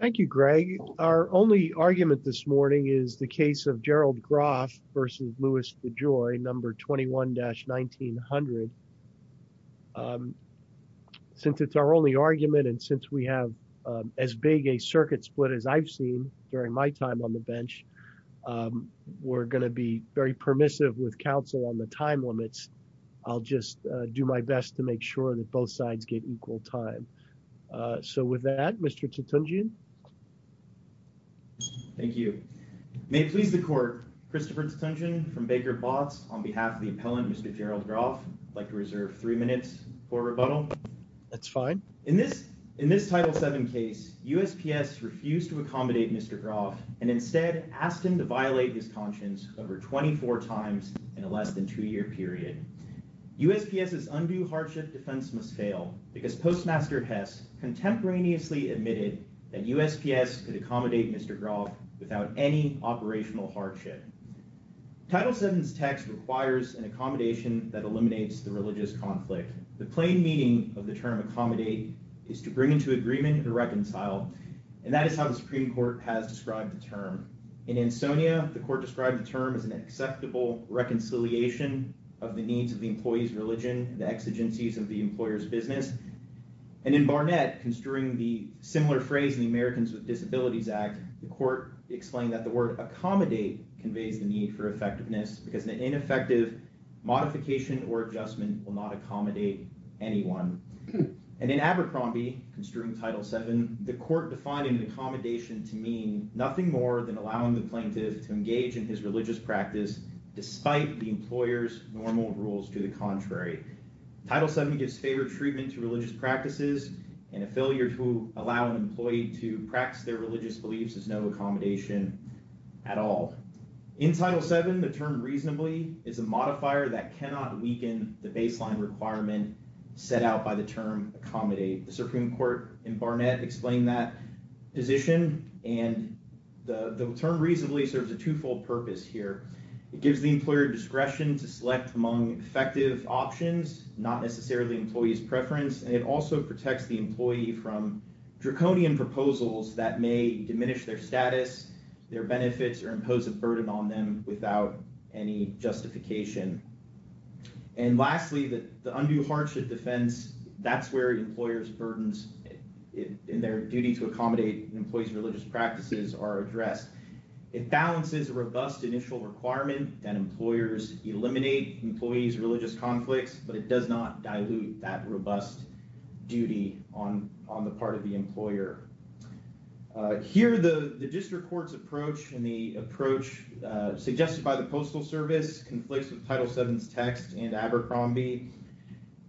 Thank you, Greg. Our only argument this morning is the case of Gerald Groff v. Louis De Joy, number 21-1900. Since it's our only argument and since we have as big a circuit split as I've seen during my time on the bench, we're going to be very permissive with counsel on the time limits. I'll just do my best to make sure that both sides get equal time. So with that, Mr. Tutunjian. Thank you. May it please the Court, Christopher Tutunjian from Baker Boss on behalf of the appellant, Mr. Gerald Groff, would like to reserve three minutes for rebuttal. That's fine. In this Title VII case, USPS refused to accommodate Mr. Groff and instead asked him to violate his USPS's undue hardship defense must fail because Postmaster Hess contemporaneously admitted that USPS could accommodate Mr. Groff without any operational hardship. Title VII's text requires an accommodation that eliminates the religious conflict. The plain meaning of the term accommodate is to bring into agreement to reconcile, and that is how the Supreme Court has described the term. In Ansonia, the Court described the term as an acceptable reconciliation of the needs of the employee's religion, the exigencies of the employer's business. And in Barnett, construing the similar phrase in the Americans with Disabilities Act, the Court explained that the word accommodate conveyed the need for effectiveness because an ineffective modification or adjustment will not accommodate anyone. And in Abercrombie, construing Title VII, the Court defined an accommodation to mean nothing more than allowing the plaintiff to engage in his religious practice despite the employer's normal rules to the contrary. Title VII gives favored treatment to religious practices, and a failure to allow an employee to practice their religious beliefs is no accommodation at all. In Title VII, the term reasonably is a modifier that cannot weaken the baseline requirement set out by the term reasonably serves a twofold purpose here. It gives the employer discretion to select among effective options, not necessarily employee's preference, and it also protects the employee from draconian proposals that may diminish their status, their benefits, or impose a burden on them without any justification. And lastly, the undue hardship defense, that's where the employer's it balances a robust initial requirement and employers eliminate employees' religious conflicts, but it does not dilute that robust duty on the part of the employer. Here, the District Court's approach and the approach suggested by the Postal Service conflates with Title VII's text in Abercrombie.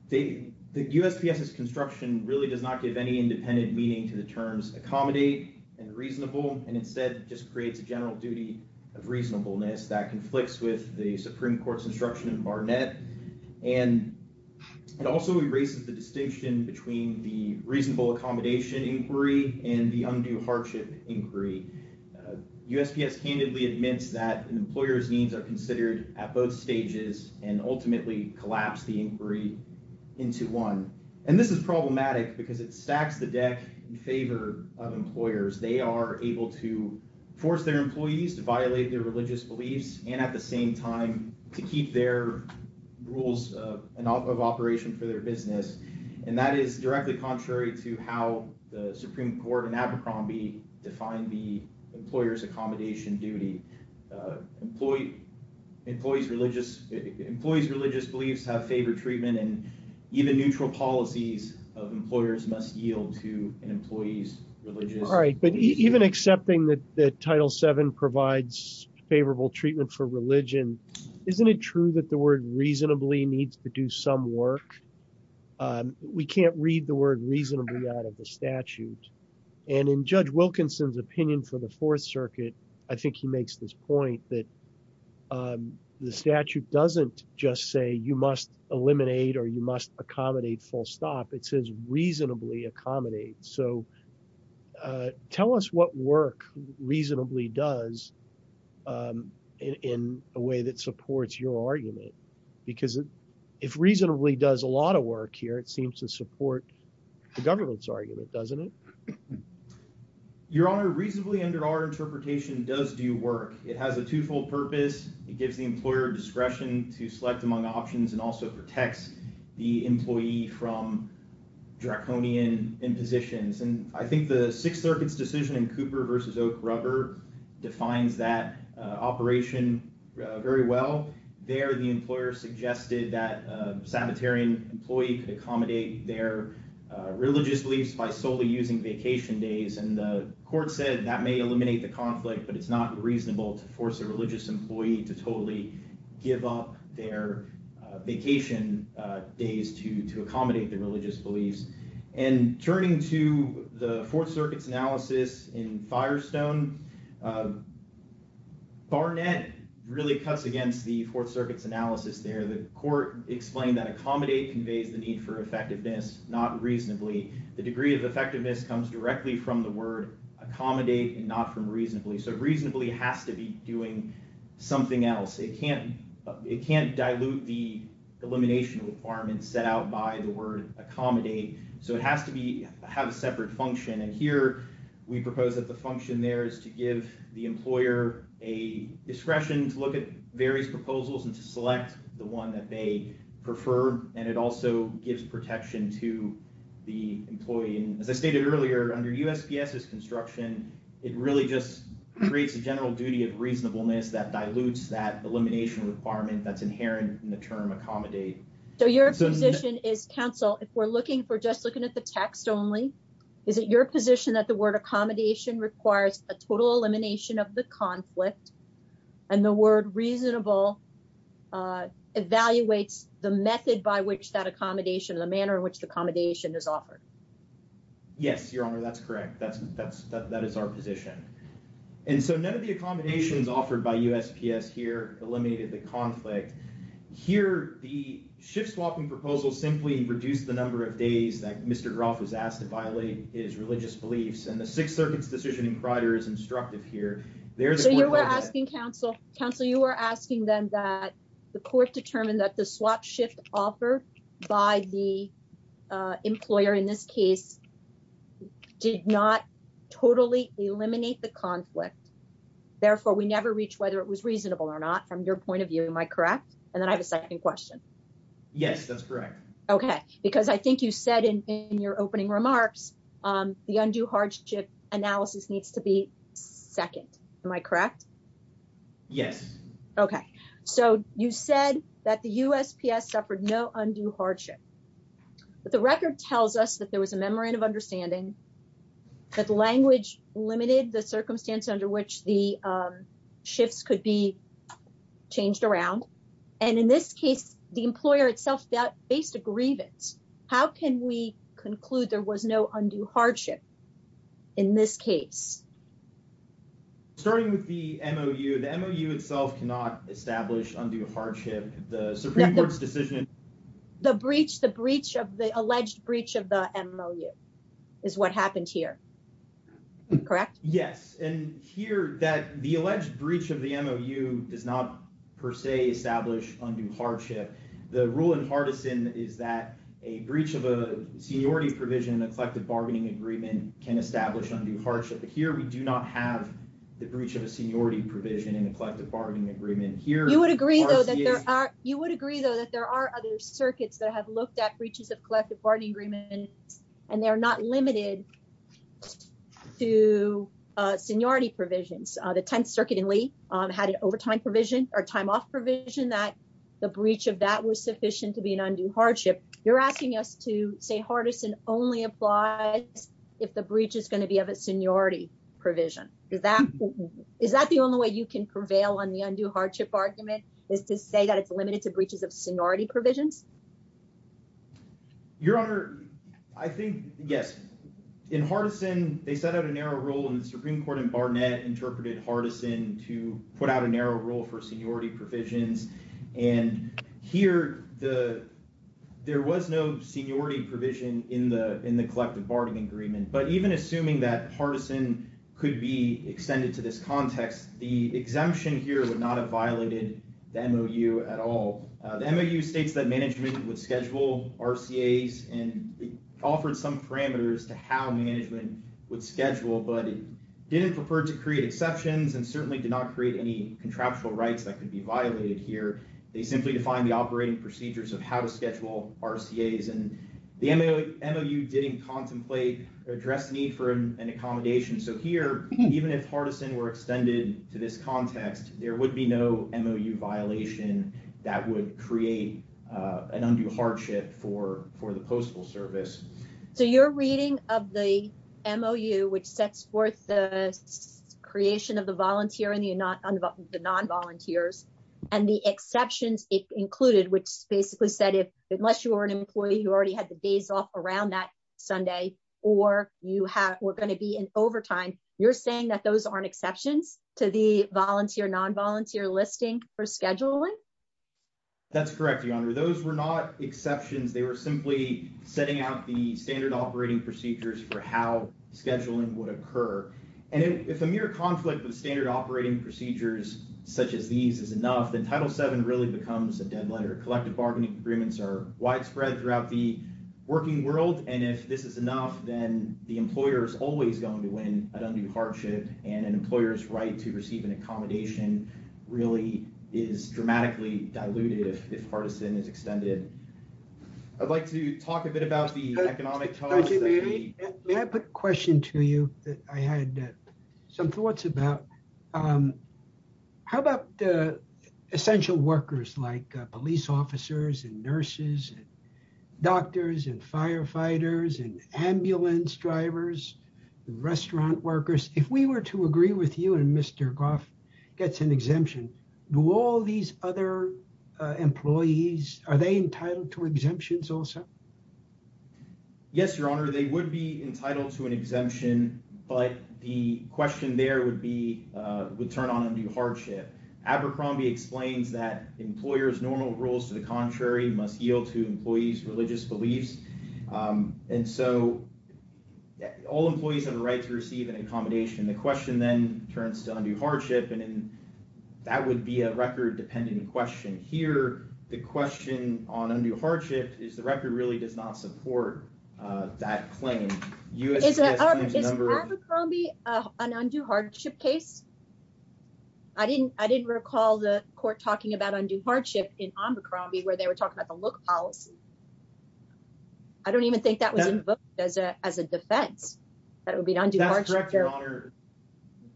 The USPS's construction really does not give any independent meaning to the terms accommodate and reasonable, and instead just creates a general duty of reasonableness that conflicts with the Supreme Court's instruction in Barnett, and it also erases the distinction between the reasonable accommodation inquiry and the undue hardship inquiry. USPS candidly admits that an employer's needs are considered at both stages and ultimately collapse the inquiry into one. And this is problematic because it stacks the deck in favor of employers. They are able to force their employees to violate their religious beliefs and at the same time to keep their rules of operation for their business, and that is directly contrary to how the Supreme Court in Abercrombie defined the employer's accommodation duty. Employees' religious beliefs have favored treatment and even neutral policies of employers must yield to an employee's religious beliefs. All right, but even accepting that Title VII provides favorable treatment for religion, isn't it true that the word reasonably needs to do some work? We can't read the word reasonably out of the statute, and in Judge Wilkinson's opinion for the Fourth Circuit, I think he makes this point that the statute doesn't just say you must eliminate or you must accommodate full stop, it says reasonably accommodate. So tell us what work reasonably does in a way that supports your argument, doesn't it? Your Honor, reasonably under our interpretation does do work. It has a twofold purpose. It gives the employer discretion to select among options and also protects the employee from draconian impositions, and I think the Sixth Circuit's decision in Cooper v. Oak Rubber defines that operation very well. There the employer suggested that a religious beliefs by solely using vacation days, and the court said that may eliminate the conflict, but it's not reasonable to force a religious employee to totally give up their vacation days to accommodate the religious beliefs. And turning to the Fourth Circuit's analysis in Firestone, Barnett really cuts against the Fourth Circuit's analysis there. The court explained that accommodate conveys the need for effectiveness, not reasonably. The degree of effectiveness comes directly from the word accommodate and not from reasonably. So reasonably has to be doing something else. It can't dilute the elimination requirements set out by the word accommodate, so it has to have a separate function, and here we propose that the function there is to give the employer a discretion to look at various proposals and to select the one that they prefer, and it also gives protection to the employee. And as I stated earlier, under USPS's instruction, it really just creates a general duty of reasonableness that dilutes that elimination requirement that's inherent in the term accommodate. So your position is, counsel, if we're looking for just looking at the text only, is it your position that the word accommodation requires a total elimination of the conflict, and the word reasonable evaluates the method by which that accommodation, the manner in which the accommodation is offered? Yes, Your Honor, that's correct. That is our position. And so now that the accommodation is offered by USPS here, eliminated the conflict, here the shift-swapping proposal simply reduced the number of days that 630's decision in Cridor is instructed here. So you were asking, counsel, you were asking them that the court determined that the swap shift offered by the employer in this case did not totally eliminate the conflict, therefore we never reached whether it was reasonable or not from your point of view, am I correct? And then I have a second question. Yes, that's correct. Okay, because I think you said in your opening remarks the undue hardship analysis needs to be second, am I correct? Yes. Okay, so you said that the USPS suffered no undue hardship, but the record tells us that there was a memorandum of understanding, that the language limited the circumstance under which the shifts could be changed around, and in this case the employer itself faced a grievance how can we conclude there was no undue hardship in this case? Starting with the MOU, the MOU itself cannot establish undue hardship. The Supreme Court's decision... The breach, the breach of the alleged breach of the MOU is what happened here, correct? Yes, and here that the alleged breach of the MOU does not per se establish undue hardship. The rule in partisan is that a breach of a seniority provision in a collective bargaining agreement can establish undue hardship. Here we do not have the breach of a seniority provision in a collective bargaining agreement. You would agree though that there are other circuits that have looked at breaches of collective bargaining agreements and they're not limited to seniority provisions. The 10th Circuit in Lee had an overtime provision or time off provision that the breach of that was sufficient to be an undue hardship. You're asking us to say partisan only applies if the breach is going to be of a seniority provision. Is that the only way you can prevail on the undue hardship argument is to say that it's limited to breaches of seniority provisions? Your Honor, I think yes. In partisan, they set out a narrow rule and the Supreme Court in Barnett interpreted partisan to put out a narrow rule for seniority provisions. Here there was no seniority provision in the collective bargaining agreement. But even assuming that partisan could be extended to this context, the exemption here would not have violated the MOU at all. The MOU states that management would schedule RCA's and it offered some parameters to how management would schedule, but it didn't prefer to create exceptions and certainly did not create any contractual rights that could be violated here. They simply defined the operating procedures of how to schedule RCA's and the MOU didn't contemplate or address the need for an accommodation. So here, even if partisan were extended to this context, there would be no MOU violation that would create an undue hardship for the Postal Service. So you're reading of the volunteer and the non-volunteers and the exceptions it's included, which basically said if unless you were an employee, you already had the days off around that Sunday or you were going to be in overtime, you're saying that those aren't exceptions to the volunteer non-volunteer listing for scheduling? That's correct, Your Honor. Those were not exceptions. They were simply setting out the standard operating procedures for how scheduling would occur. And it's a mere conflict with standard operating procedures such as these is enough, then Title VII really becomes a dead letter. Collective bargaining agreements are widespread throughout the working world and if this is enough, then the employer is always going to win an undue hardship and an employer's right to receive an accommodation really is dramatically diluted if partisan is extended. I'd like to talk a bit about the economic... Could I put a question to you that I had some thoughts about? How about the essential workers like police officers and nurses, doctors and firefighters and ambulance drivers, restaurant workers? If we were to agree with you and Mr. Goff gets an exemption, do all these other employees, are they entitled to exemptions also? Yes, Your Honor. They would be entitled to an exemption, but the question there would be, would turn on undue hardship. Abercrombie explains that employers' normal rules to the contrary must yield to employees' religious beliefs and so all employees have a right to receive an accommodation. The question then turns to undue hardship and that would be a record-dependent question. Here, the question on undue hardship is the record really does not support that claim. Is Abercrombie an undue hardship case? I didn't recall the court talking about undue hardship in Abercrombie where they were talking about the look policy. I don't even think that was invoked as a defense, that it would be an undue hardship case. Your Honor,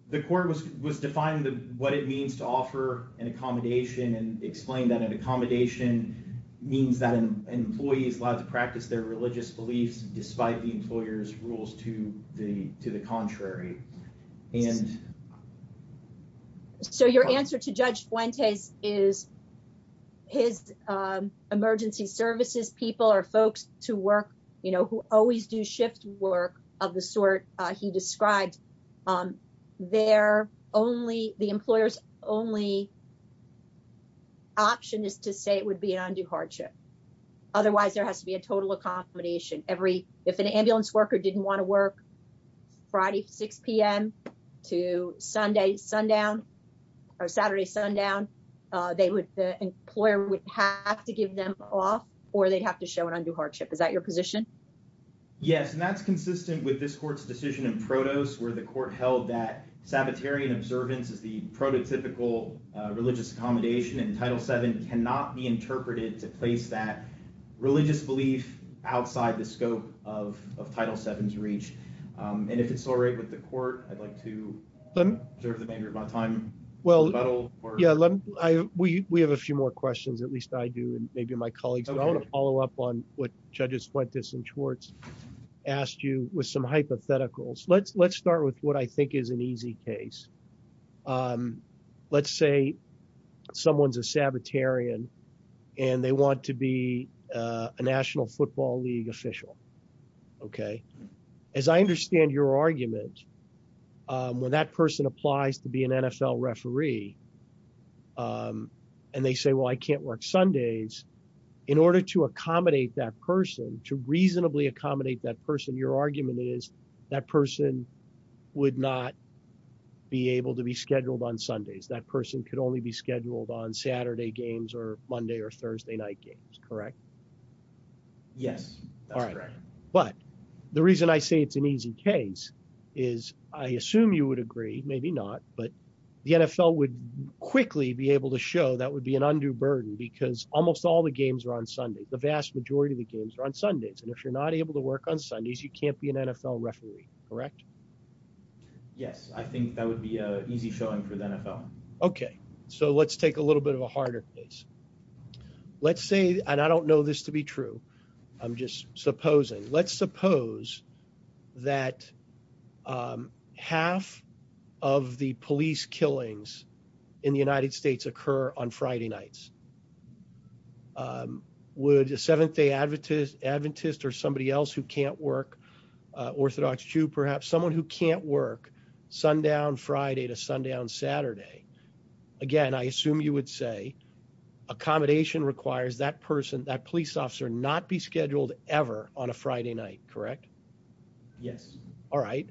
the court was defining what it means to offer an accommodation and explained that an accommodation means that an employee is allowed to practice their religious beliefs despite the employer's rules to the contrary. So your answer to Judge Fuente is his emergency services people are folks who always do shift work of the sort he described. The employer's only option is to say it would be an undue hardship. Otherwise, there has to be a total accommodation. If an ambulance worker didn't want to work Friday 6 p.m. to Saturday sundown, the employer would have to give them off or they'd have to show an undue hardship. Is that your position? Yes, and that's consistent with this court's decision in Protos where the court held that sabbatarian observance is the prototypical religious accommodation and Title VII cannot be interpreted to place that religious belief outside the scope of Title VII's reach. And if we have a few more questions, at least I do and maybe my colleagues, I want to follow up on what Judges Fuentes and Schwartz asked you with some hypotheticals. Let's start with what I think is an easy case. Let's say someone's a sabbatarian and they want to be a National Football League official, okay? As I understand your argument, when that person applies to be an NFL referee, and they say, well, I can't work Sundays, in order to accommodate that person, to reasonably accommodate that person, your argument is that person would not be able to be scheduled on Sundays. That person could only be scheduled on Saturday games or Monday or Thursday night games, correct? Yes. All right. But the reason I say it's an easy case is I assume you would agree, maybe not, but the NFL would quickly be able to show that would be an undue burden because almost all the games are on Sundays. The vast majority of the games are on Sundays, and if you're not able to work on Sundays, you can't be an NFL referee, correct? Yes. I think that would be an easy choice for the NFL. Okay. So let's take a little bit of a harder case. Let's say, and I don't know this to be true, I'm just supposing, let's suppose that half of the police killings in the United States occur on Friday nights. Would a Seventh-day Adventist or somebody else who can't work, Orthodox Jew perhaps, someone who can't work, sundown Friday to sundown Saturday, again, I assume you would say accommodation requires that person, that police officer, not be scheduled ever on a Friday night, correct? Yes. All right.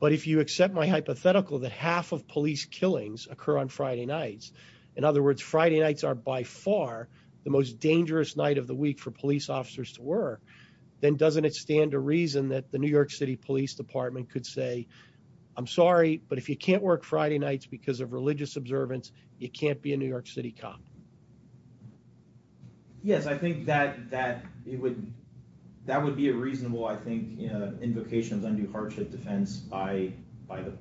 But if you accept my hypothetical, that half of police killings occur on Friday nights, in other words, Friday nights are by far the most dangerous night of the week for police officers to work, then doesn't it stand to reason that the New York City Police Department could say, I'm sorry, but if you can't work Friday nights because of religious observance, you can't be a New York City cop? Yes. I think that it would, that would be a reasonable, I think, invocation of undue hardship defense by the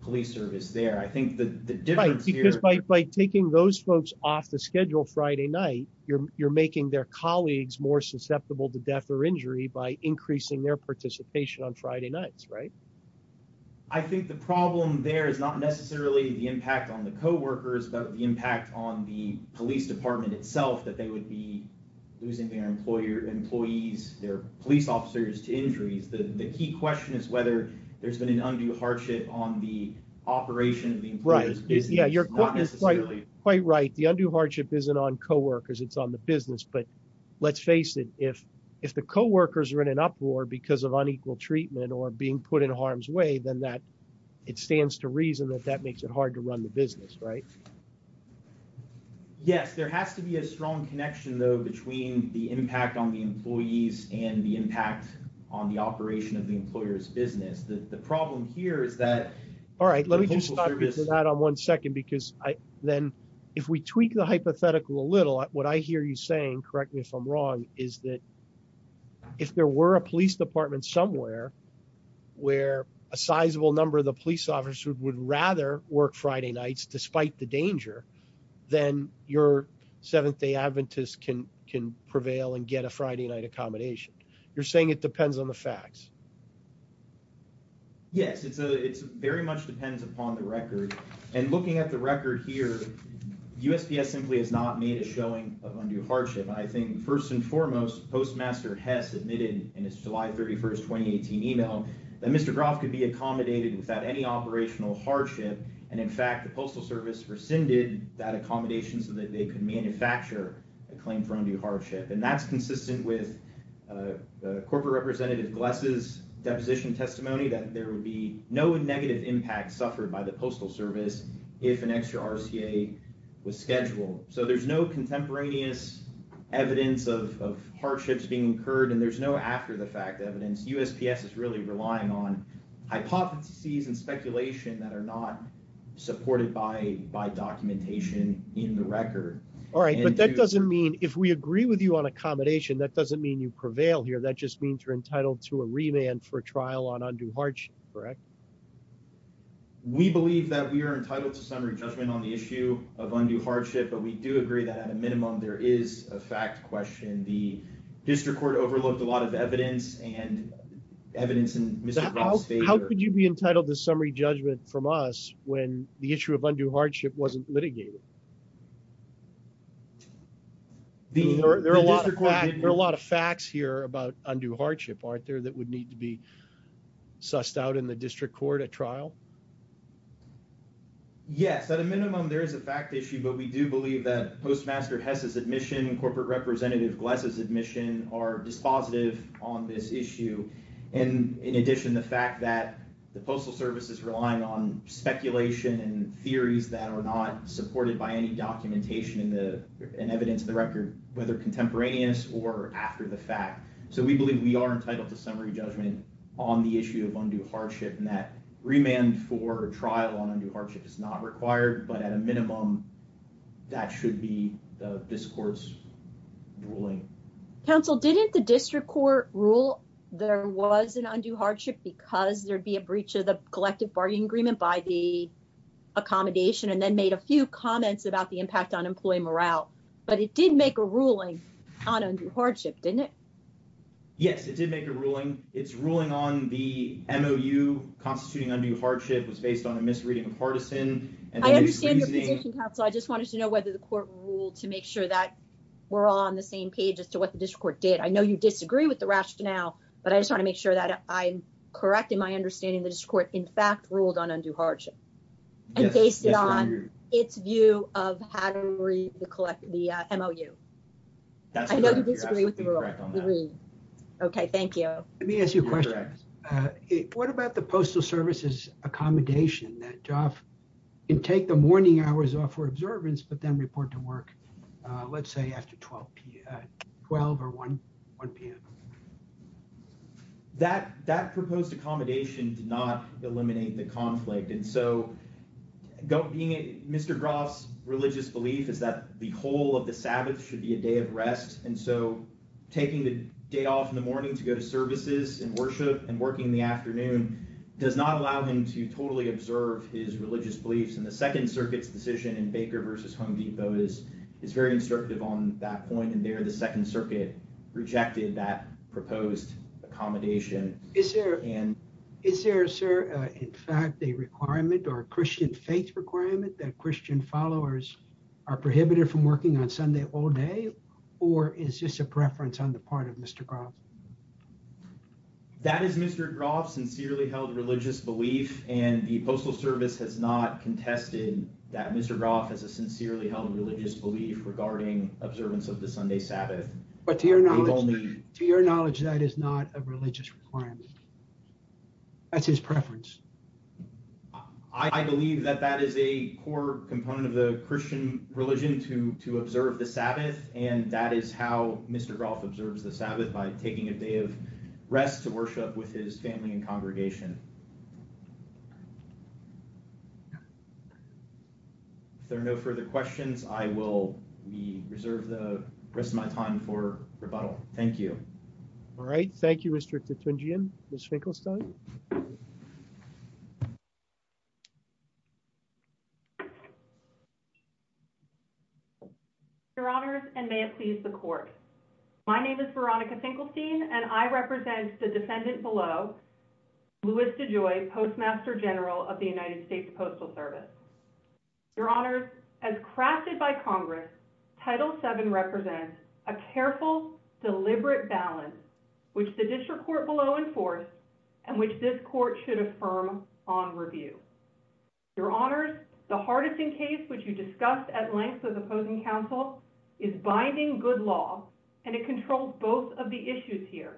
police service there. I think the difference here- By taking those folks off the schedule Friday night, you're making their colleagues more susceptible to death or injury by increasing their participation on Friday nights, right? I think the problem there is not necessarily the impact on the coworkers, but the impact on the police department itself, that they would be losing their employees, their police officers to injuries. The key question is whether there's been an undue hardship on the operation of the- Right. Yeah. You're quite right. The undue hardship isn't on coworkers, it's on the business. But let's face it, if the coworkers are in an uproar because of unequal treatment or being put in harm's way, then that, it stands to reason that that makes it hard to run the business, right? Yes. There has to be a strong connection, though, between the impact on the employees and the impact on the operation of the employer's business. The problem here is that- All right. Let me just talk into that on one second, because then if we tweak the hypothetical a little, what I hear you saying, correct me if I'm wrong, is that if there were a police department somewhere where a sizable number of the police officers would rather work Friday nights despite the danger, then your Seventh-day Adventist can prevail and get a Friday night accommodation. You're saying it depends on the facts. Yes. It very much depends upon the record. And looking at the record here, USPS simply has not made a showing of undue hardship. I think, first and foremost, Postmaster Hess admitted in his July 31st, 2018 email that Mr. Groff could be accommodated without any operational hardship. And in fact, the Postal Service rescinded that accommodation so that they could manufacture a claim for undue hardship. And that's consistent with Corporate Representative Gless's deposition testimony that there would be no negative impact suffered by the Postal Service if an extra RCA was scheduled. So there's no contemporaneous evidence of hardships being incurred and there's no after-the-fact evidence. USPS is really relying on hypotheses and speculation that are not supported by documentation in the record. All right, but that doesn't mean, if we agree with you on accommodation, that doesn't mean you prevail here. That just means you're entitled to a remand for trial on undue hardship, correct? We believe that we are entitled to summary judgment on the issue of undue hardship, but we do agree that, at a minimum, there is a fact question. The District Court overlooked a lot of evidence and evidence in Mr. Groff's favor. How could you be entitled to summary judgment from us when the issue of undue hardship wasn't litigated? There are a lot of facts here about undue hardship, aren't there, that would need to be sussed out in the District Court at trial? Yes, at a minimum, there is a fact issue, but we do believe that Postmaster Hess's admission and Corporate Representative Gless's admission are dispositive on this issue. And, in addition, the fact that the Postal Service is relying on speculation and theories that are not supported by any documentation and evidence in the record, whether contemporaneous or after-the-fact. So we believe we are entitled to summary judgment on the issue of undue hardship and that remand for a trial on undue hardship is not required, but at a minimum, that should be the District Court's ruling. Counsel, didn't the District Court rule there was an undue hardship because there'd be a breach of the collective bargaining agreement by the accommodation and then made a few comments about the impact on employee morale? But it did make a ruling on undue hardship, didn't it? Yes, it did make a ruling. Its ruling on the MOU constituting undue hardship was based on a misreading of partisan. I understand your position, Counsel. I just wanted to know whether the Court ruled to make sure that we're all on the same page as to what the District Court did. I know you disagree with the rationale, but I just want to make sure that I'm correct in my understanding the District Court, in fact, ruled on undue hardship and based it on its view of how to collect the MOU. I know you disagree with the ruling. Okay, thank you. Let me ask you a question. What about the Postal Service's accommodation that Joff can take the morning hours off for observance but then report to work, let's say, after 12 or 1 p.m.? That proposed accommodation did not eliminate the conflict. And so, Mr. Groff's religious belief is that the whole of the Sabbath should be a day of rest. And so, taking the day off in the morning to go to services and worship and working in the afternoon does not allow him to totally observe his religious beliefs. And the Second Circuit's position in Baker v. Home Depot is very instructive on that point. And the Second Circuit rejected that proposed accommodation. Is there, sir, in fact, a requirement or a Christian faith requirement that Christian followers are prohibited from working on Sunday all day? Or is this a preference on the part of Mr. Groff? That is Mr. Groff's sincerely held religious belief, and the Postal Service has not contested that Mr. Groff has a sincerely held religious belief regarding observance of the Sunday Sabbath. But to your knowledge, that is not a religious requirement. That's his preference. I believe that that is a core component of the Christian religion to observe the Sabbath, and that is how Mr. Groff observes the Sabbath, by taking a day of rest to worship with his family and congregation. If there are no further questions, I will reserve the rest of my time for rebuttal. Thank you. All right. Thank you, Mr. Kitchingian. Ms. Finkelstein? Your Honors, and may it please the Court. My name is Veronica Finkelstein, and I represent the defendant below, Louis DeJoy, Postmaster General of the United States Postal Service. Your Honors, as crafted by Congress, Title VII represents a careful, deliberate balance which the District Court will enforce, and which this Court should affirm on review. Your Honors, the Hardison case, which you discussed at length with opposing counsel, is binding good law, and it controls both of the issues here.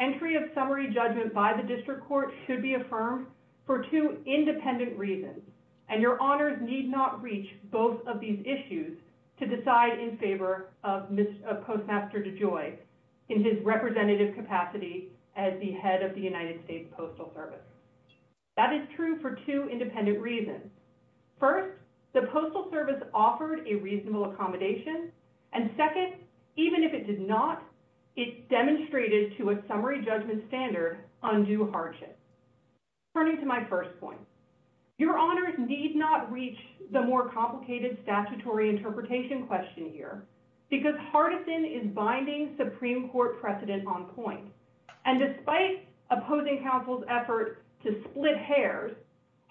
Entry of summary judgment by the District Court should be affirmed for two independent reasons, and Your Honors need not reach both of these issues to decide in favor of Postmaster DeJoy in his representative capacity as the head of the United States Postal Service. That is true for two independent reasons. First, the Postal Service offered a reasonable accommodation, and second, even if it did not, it demonstrated to a summary judgment standard undue hardship. Turning to my first point, Your Honors need not reach the more complicated statutory interpretation question here, because Hardison is binding Supreme Court precedent on point, and despite opposing counsel's effort to split hairs,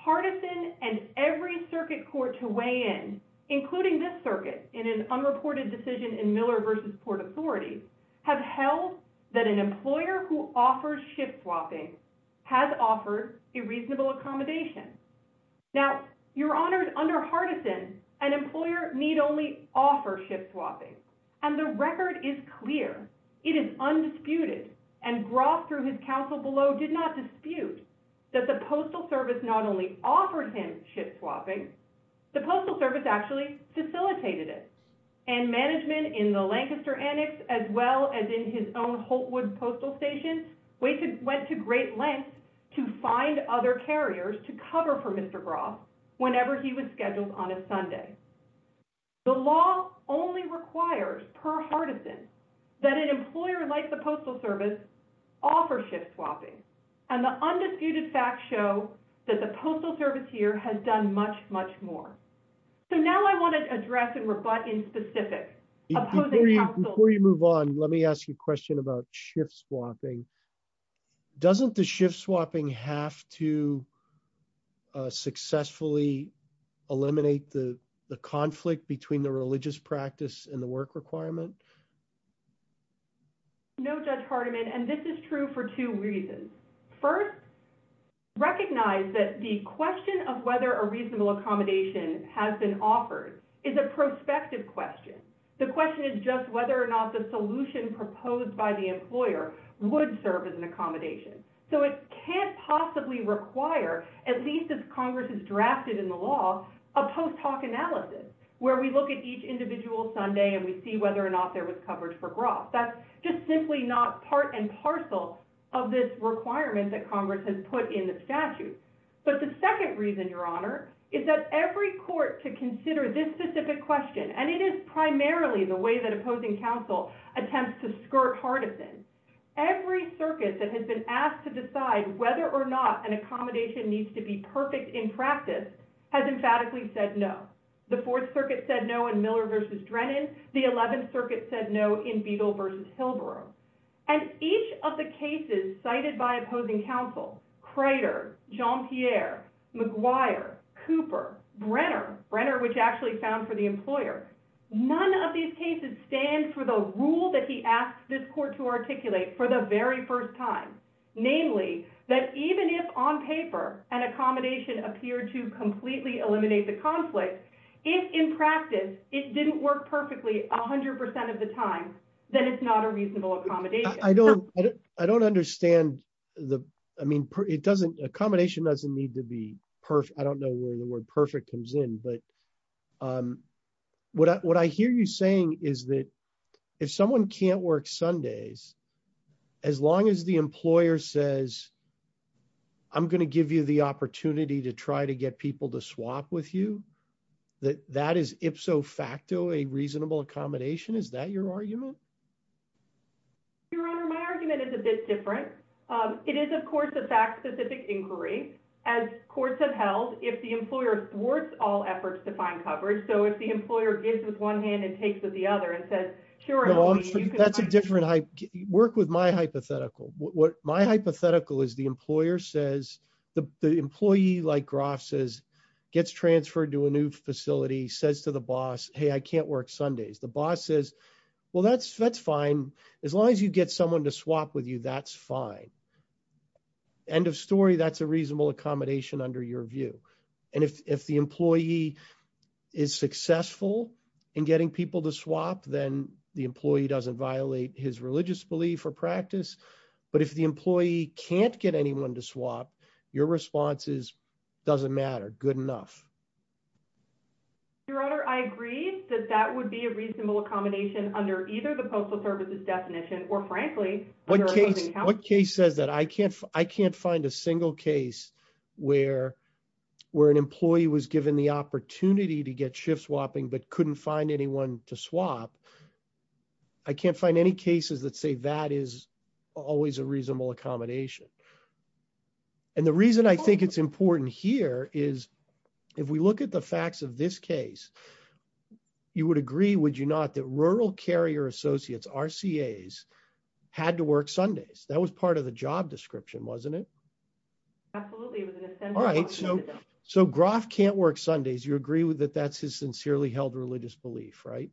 Hardison and every circuit court to weigh in, including this circuit, in an unreported decision in Miller v. Port Authority, have held that an employer who offers ship swapping has offered a reasonable accommodation. Now, Your Honors, under Hardison, an employer need only offer ship swapping, and the record is clear. It is undisputed, and Brough, through his counsel below, did not dispute that the Postal Service not only facilitated it, and management in the Lancaster Annex, as well as in his own Holtwood Postal Station, went to great lengths to find other carriers to cover for Mr. Brough whenever he was scheduled on a Sunday. The law only requires, per Hardison, that an employer like the Postal Service offer ship swapping, and the undisputed facts show that the Postal Service here has done much, much more. So now I want to address and reflect in specific. Before you move on, let me ask you a question about ship swapping. Doesn't the ship swapping have to successfully eliminate the conflict between the religious practice and the work requirement? No, Judge Hardiman, and this is true for two reasons. First, recognize that the question of whether a reasonable accommodation has been offered is a prospective question. The question is just whether or not the solution proposed by the employer would serve as an accommodation. So it can't possibly require, at least as Congress has drafted in the law, a post hoc analysis, where we look at each individual Sunday and we see whether or not there was coverage for Brough. That's just simply not part and parcel of this requirement that is in your honor, is that every court to consider this specific question, and it is primarily the way that opposing counsel attempts to skirt Hardison. Every circuit that has been asked to decide whether or not an accommodation needs to be perfect in practice has emphatically said no. The Fourth Circuit said no in Miller v. Drennan. The Eleventh Circuit said no in Beagle v. Pilbara. And each of the cases cited by opposing counsel, Crater, Jean-Pierre, McGuire, Cooper, Brenner, Brenner which actually found for the employer, none of these cases stand for the rule that he asked this court to articulate for the very first time. Namely, that even if on paper an accommodation appeared to completely eliminate the conflict, if in practice it didn't work perfectly 100% of the time, then it's not a reasonable accommodation. I don't understand. I mean, accommodation doesn't need to be perfect. I don't know where the word perfect comes in. But what I hear you saying is that if someone can't work Sundays, as long as the employer says, I'm going to give you the opportunity to try to get people to swap with you, that that is ipso facto a reasonable accommodation. Is that your argument? Your Honor, my argument is a bit different. It is, of course, a fact-specific inquiry. As courts have held, if the employer thwarts all efforts to find coverage, so if the employer gives with one hand and takes with the other and says, sure. That's a different, work with my hypothetical. My hypothetical is the employer says, the employee, like Groff says, gets transferred to a new facility, says to the boss, hey, I can't work Sundays. The boss says, well, that's fine. As long as you get someone to swap with you, that's fine. End of story, that's a reasonable accommodation under your view. And if the employee is successful in getting people to swap, then the employee doesn't violate his religious belief or practice. But if the employee can't get anyone to swap, your response is, doesn't matter, good enough. Your Honor, I agree that that would be a reasonable accommodation under either the Postal Service's definition or frankly. One case said that I can't find a single case where an employee was given the opportunity to get shift swapping but couldn't find anyone to swap. I can't find any cases that say that is always a reasonable accommodation. And the reason I think it's important here is, if we look at the facts of this case, you would agree, would you not, that rural carrier associates, RCAs, had to work Sundays. That was part of the job description, wasn't it? Absolutely. So Groff can't work Sundays. You agree that that's his sincerely held religious belief, right?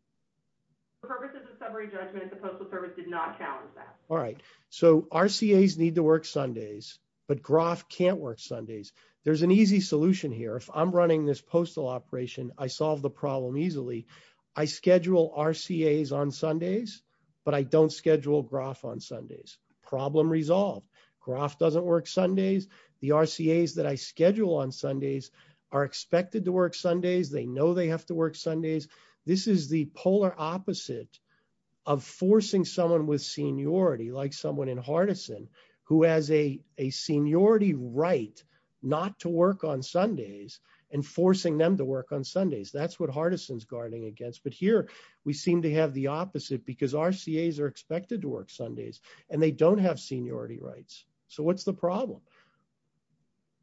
The purpose of the summary judgment, the Postal Service did not challenge that. All right. So RCAs need to work Sundays, but Groff can't work Sundays. There's an easy solution here. If I'm running this postal operation, I solve the problem easily. I schedule RCAs on Sundays, but I don't schedule Groff on Sundays. Problem resolved. Groff doesn't work Sundays. The RCAs that I schedule on Sundays are expected to work Sundays. They know they have to work Sundays. This is the polar opposite of forcing someone with seniority, like someone in Hardison, who has a seniority right not to work on Sundays and forcing them to work on Sundays. That's what Hardison's guarding against. But here, we seem to have the opposite because RCAs are expected to work Sundays and they don't have seniority rights. So what's the problem?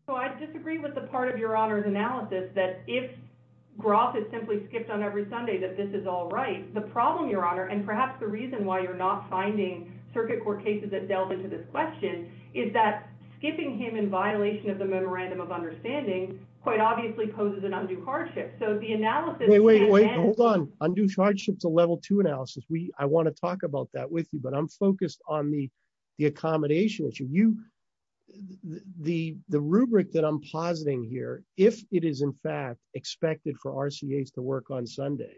So I disagree with the part of Your Honor's analysis that if Groff is simply skipped on every Sunday that this is all right. The problem, Your Honor, and perhaps the reason why you're not finding circuit court cases that delve into this question is that skipping him in violation of the motorandum of understanding quite obviously poses an undue hardship. So the analysis- Wait, wait, wait. Hold on. Undue hardship's a level two analysis. I want to talk about that with you, but I'm focused on the accommodation issue. The rubric that I'm positing here, if it is in fact expected for RCAs to work on Sunday,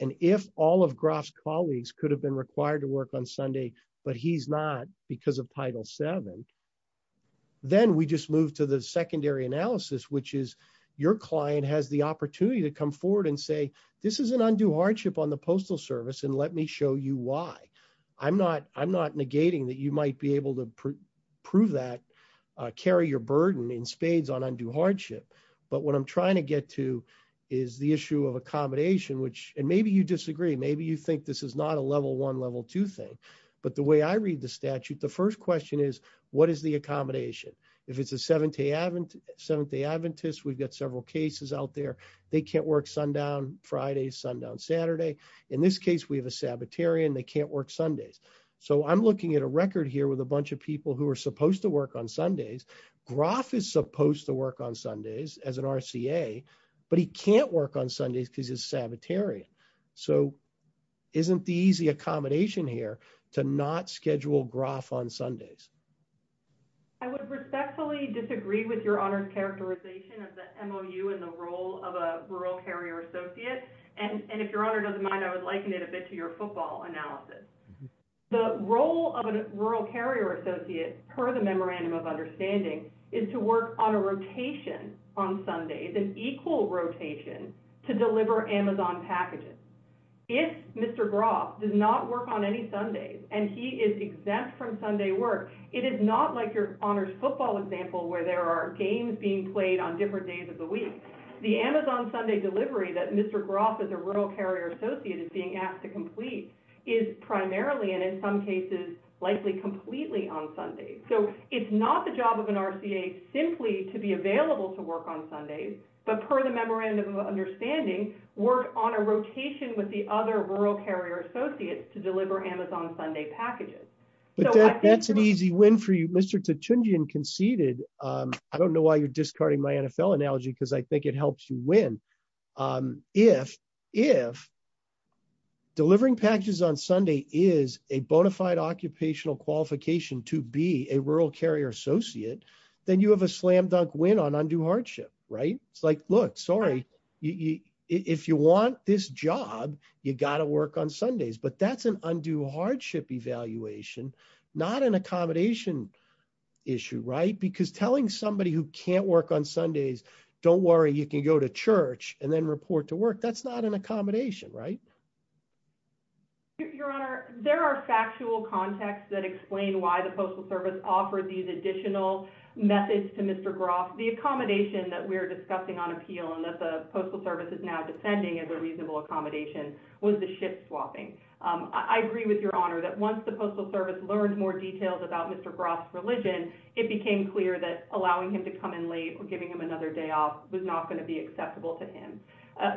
and if all of Groff's colleagues could have been required to work on Sunday, but he's not because of Title VII, then we just move to the secondary analysis, which is your client has the opportunity to come forward and say, this is an undue hardship on the Postal Service, and let me show you why. I'm not negating that you might be able to prove that, carry your burden in spades on undue hardship, but what I'm trying to get to is the issue of accommodation, which, and maybe you disagree. Maybe you think this is not a level one, level two thing, but the way I read the statute, the first question is, what is the accommodation? If it's a Seventh-day Adventist, we've got several cases out there. They can't work sundown Friday, sundown Saturday. In this case, we have a Sabbatarian. They can't work Sundays. I'm looking at a record here with a bunch of people who are supposed to work on Sundays. Groff is supposed to work on Sundays as an RCA, but he can't work on Sundays because he's a Sabbatarian. Isn't the easy accommodation here to not schedule Groff on Sundays? I would respectfully disagree with your honor characterization of the MOU and the role of a Rural Carrier Associate, and if your honor doesn't mind, I would liken it a bit to your football analysis. The role of a Rural Carrier Associate, per the Memorandum of Understanding, is to work on a rotation on Sundays, an equal rotation to deliver Amazon packages. If Mr. Groff does not work on any Sundays and he is exempt from Sunday work, it is not like your honors football example where there are games being played on different days of the week. The Amazon Sunday delivery that Mr. Groff, as a Rural Carrier Associate, is being asked to complete is primarily, and in some cases, likely completely on Sundays. So it's not the job of an RCA simply to be available to work on Sundays, but per the Memorandum of Understanding, work on a rotation with the other Rural Carrier Associates to deliver Amazon Sunday packages. That's an easy win for you. Mr. Tutunjian conceded. I don't know why you're discarding my NFL analogy because I think it helps you win. If delivering packages on Sunday is a bona fide occupational qualification to be a Rural Carrier Associate, then you have a slam dunk win on undue hardship, right? It's like, look, sorry, if you want this job, you got to work on Sundays, but that's an undue hardship evaluation, not an accommodation issue, right? Because telling somebody who can't work on Sundays, don't worry, you can go to church and then report to work, that's not an accommodation, right? Your Honor, there are factual contexts that explain why the Postal Service offered these additional methods to Mr. Groff. The accommodation that we're discussing on appeal and that the reasonable accommodation was the shift swapping. I agree with Your Honor that once the Postal Service learned more details about Mr. Groff's religion, it became clear that allowing him to come in late or giving him another day off was not going to be acceptable to him.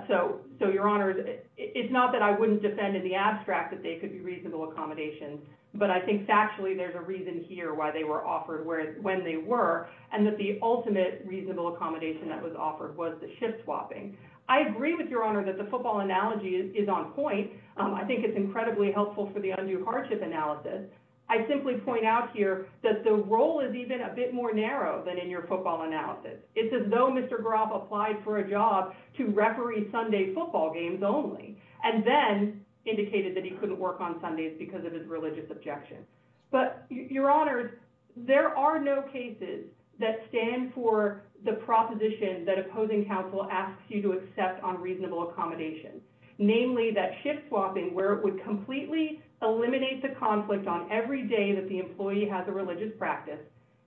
So, Your Honor, it's not that I wouldn't defend in the abstract that they could be reasonable accommodations, but I think factually there's a reason here why they were offered when they were, and that the ultimate reasonable accommodation that was offered was the shift swapping. I agree with Your Honor that the football analogy is on point. I think it's incredibly helpful for the undue hardship analysis. I simply point out here that the role is even a bit more narrow than in your football analysis. It's as though Mr. Groff applied for a job to referee Sunday football games only, and then indicated that he couldn't work on Sundays because of his religious objections. But, Your Honor, there are no cases that stand for the proposition that opposing counsel asks you to accept on reasonable accommodation. Namely, that shift swapping, where it would completely eliminate the conflict on every day that the employee has a religious practice,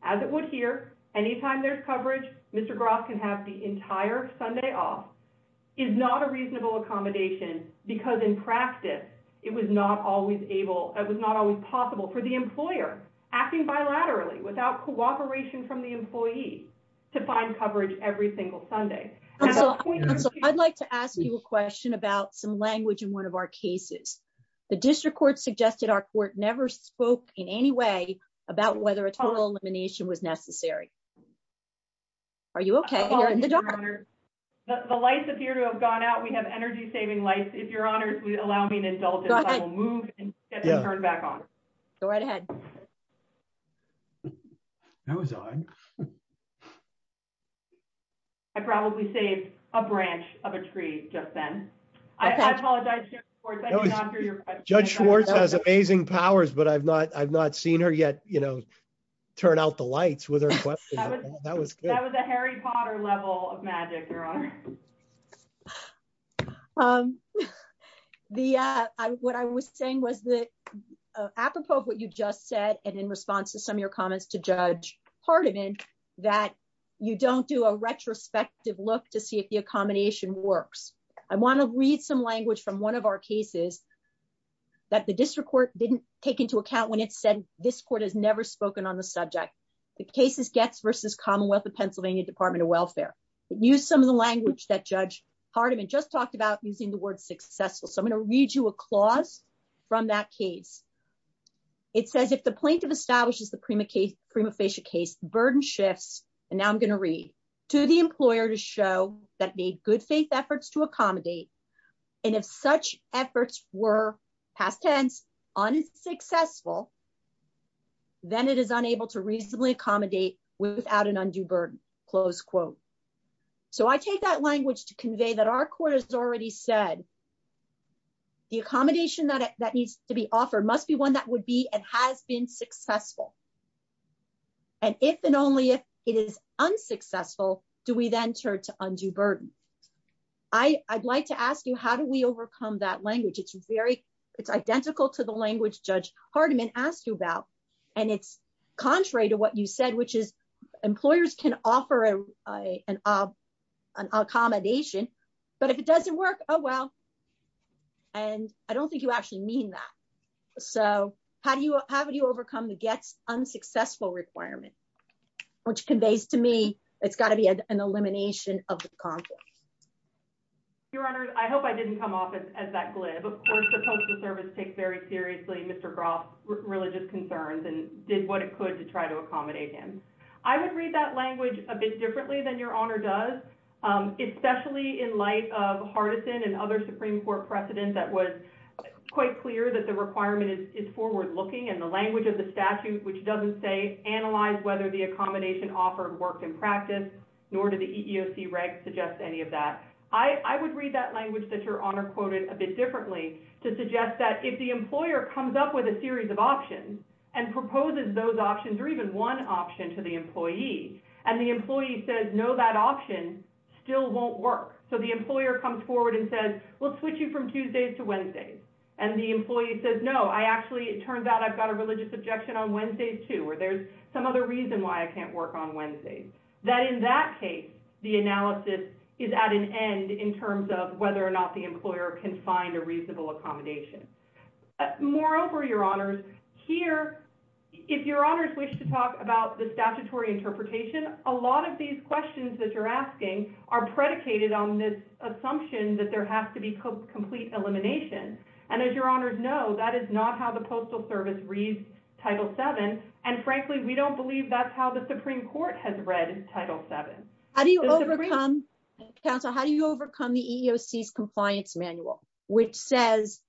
as it would here, anytime there's coverage, Mr. Groff can have the entire Sunday off, is not a reasonable accommodation because, in practice, it was not always able, it was not always possible for the employer, acting bilaterally without cooperation from the employee, to find coverage every single Sunday. I'd like to ask you a question about some language in one of our cases. The district court suggested our court never spoke in any way about whether a total elimination was necessary. Are you okay? The lights appear to have gone out. We have energy I probably saved a branch of a tree just then. I apologize. Judge Schwartz has amazing powers, but I've not seen her yet, you know, turn out the lights. That was a Harry Potter level of magic, Your Honor. What I was saying was that, apropos of what you just said, and in response to some of your you don't do a retrospective look to see if the accommodation works. I want to read some language from one of our cases that the district court didn't take into account when it said this court has never spoken on the subject. The case is Getz versus Commonwealth of Pennsylvania Department of Welfare. It used some of the language that Judge Hardiman just talked about using the word successful. So I'm going to read you a clause from that case. It says, the plaintiff establishes the prima facie case, burden shifts, and now I'm going to read, to the employer to show that made good faith efforts to accommodate, and if such efforts were, past tense, unsuccessful, then it is unable to reasonably accommodate without an undue burden, close quote. So I take that language to convey that our court has already said the accommodation that needs to be offered must be one that would be and has been successful, and if and only if it is unsuccessful, do we then turn to undue burden. I'd like to ask you, how do we overcome that language? It's very, it's identical to the language Judge Hardiman asked you about, and it's contrary to what you said, which is employers can offer an accommodation, but if it doesn't work, oh well, and I don't think you actually mean that. So how do you, how would you overcome the get unsuccessful requirement, which conveys to me it's got to be an elimination of the conflict. Your Honor, I hope I didn't come off as that glib. Of course, the Postal Service takes very seriously Mr. Groff's religious concerns and did what it could to try to accommodate him. I would read that language a bit differently than Your Honor does, especially in light of Hardison and other Supreme Court precedent that was quite clear that the requirement is forward-looking and the language of the statute, which doesn't say analyze whether the accommodation offered worked in practice, nor did the EEOC rank suggest any of that. I would read that language that Your Honor quoted a bit differently to suggest that if the employer comes up with a series of options and proposes those options or even one option to the employee, and the employee says, no, that option still won't work. So the employer comes forward and says, we'll switch you from Tuesdays to Wednesdays. And the employee says, no, I actually, it turns out I've got a religious objection on Wednesdays too, or there's some other reason why I can't work on Wednesdays. That in that case, the analysis is at an end in terms of whether or not the employer can find a reasonable accommodation. Moreover, Your Honors, here, if Your Honors wish to talk about the statutory interpretation, a lot of these questions that you're asking are predicated on this assumption that there has to be complete elimination. And as Your Honors know, that is not how the Postal Service reads Title VII. And frankly, we don't believe that's how the Supreme Court has read Title VII. How do you overcome, counsel, how do you overcome the EEOC's compliance manual, which says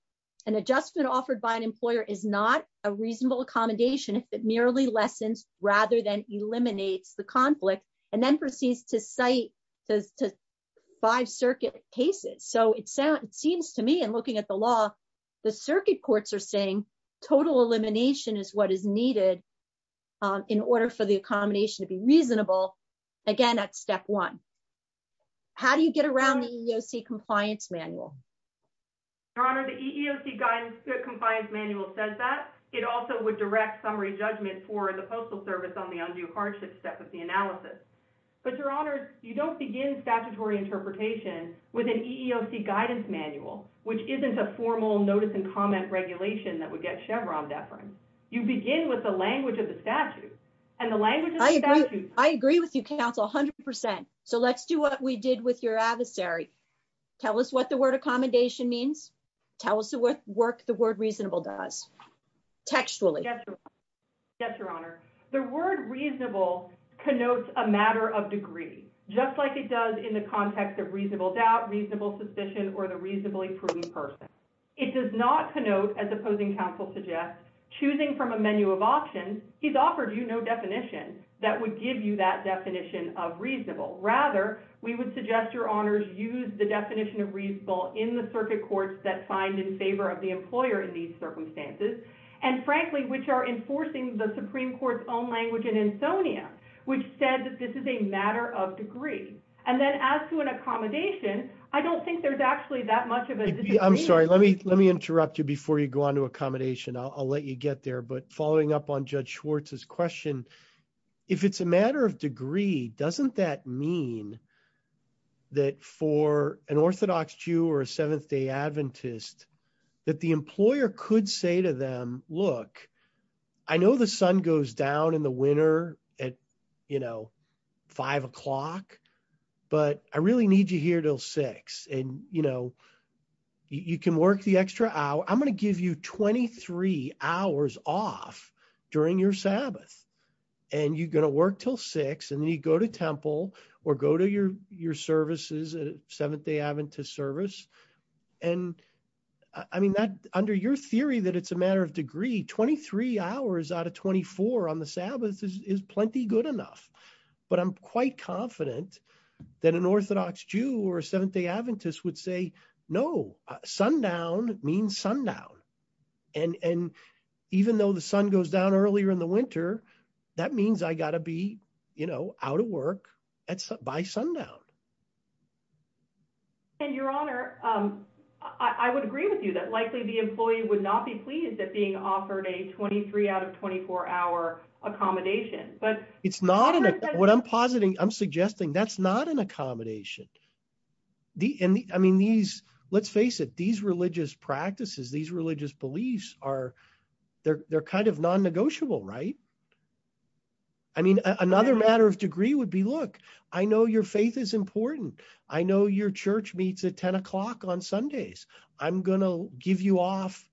an adjustment offered by an employer is not a reasonable accommodation if it eliminates the conflict and then proceeds to cite the five circuit cases? So it seems to me, in looking at the law, the circuit courts are saying total elimination is what is needed in order for the accommodation to be reasonable. Again, that's step one. How do you get around the EEOC compliance manual? Your Honor, the EEOC compliance manual says that. It also would direct summary judgment for the Postal Service on the undue hardship step of the analysis. But Your Honors, you don't begin statutory interpretation with an EEOC guidance manual, which isn't a formal notice and comment regulation that would get Chevron deference. You begin with the language of the statute. I agree with you, counsel, 100%. So let's do what we did with your adversary. Tell us what the word accommodation means. Tell us what work the word reasonable does, textually. Yes, Your Honor. The word reasonable connotes a matter of degree, just like it does in the context of reasonable doubt, reasonable suspicion, or the reasonably proven person. It does not connote, as opposing counsel suggests, choosing from a menu of options. He's offered you no definition that would give you that definition of reasonable. Rather, we would suggest, Your Honors, use the definition of reasonable in the circuit courts that find in favor of the employer in these are enforcing the Supreme Court's own language in Antonio, which said that this is a matter of degree. And then as to an accommodation, I don't think there's actually that much of a disagreement. I'm sorry. Let me interrupt you before you go on to accommodation. I'll let you get there. But following up on Judge Schwartz's question, if it's a matter of degree, doesn't that mean that for an Orthodox Jew or a Seventh-day Adventist, that the employer could say to them, look, I know the sun goes down in the winter at, you know, five o'clock, but I really need you here till six. And, you know, you can work the extra hour. I'm going to give you 23 hours off during your Sabbath. And you're going to work till six, and then you go to temple or go to your services Seventh-day Adventist service. And I mean, under your theory that it's a matter of degree, 23 hours out of 24 on the Sabbath is plenty good enough. But I'm quite confident that an Orthodox Jew or a Seventh-day Adventist would say, no, sundown means sundown. And even though the sun goes down earlier in the winter, that means I got to be, you know, out of work by sundown. And your honor, I would agree with you that likely the employee would not be pleased at being offered a 23 out of 24 hour accommodation. But it's not, what I'm positing, I'm suggesting that's not an accommodation. I mean, these, let's face it, these religious practices, these religious beliefs are, they're kind of non-negotiable, right? I mean, another matter of degree would be, look, I know your faith is important. I know your church meets at 10 o'clock on Sundays. I'm going to give you off.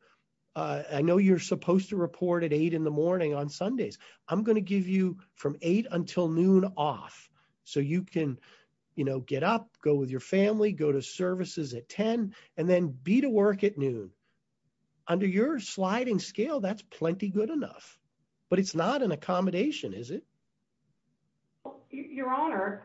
I know you're supposed to report at eight in the morning on Sundays. I'm going to give you from eight until noon off. So you can, you know, get up, go with your family, go to services at 10, and then be to work at noon. Under your sliding scale, that's plenty good enough, but it's not an accommodation, is it? Your honor,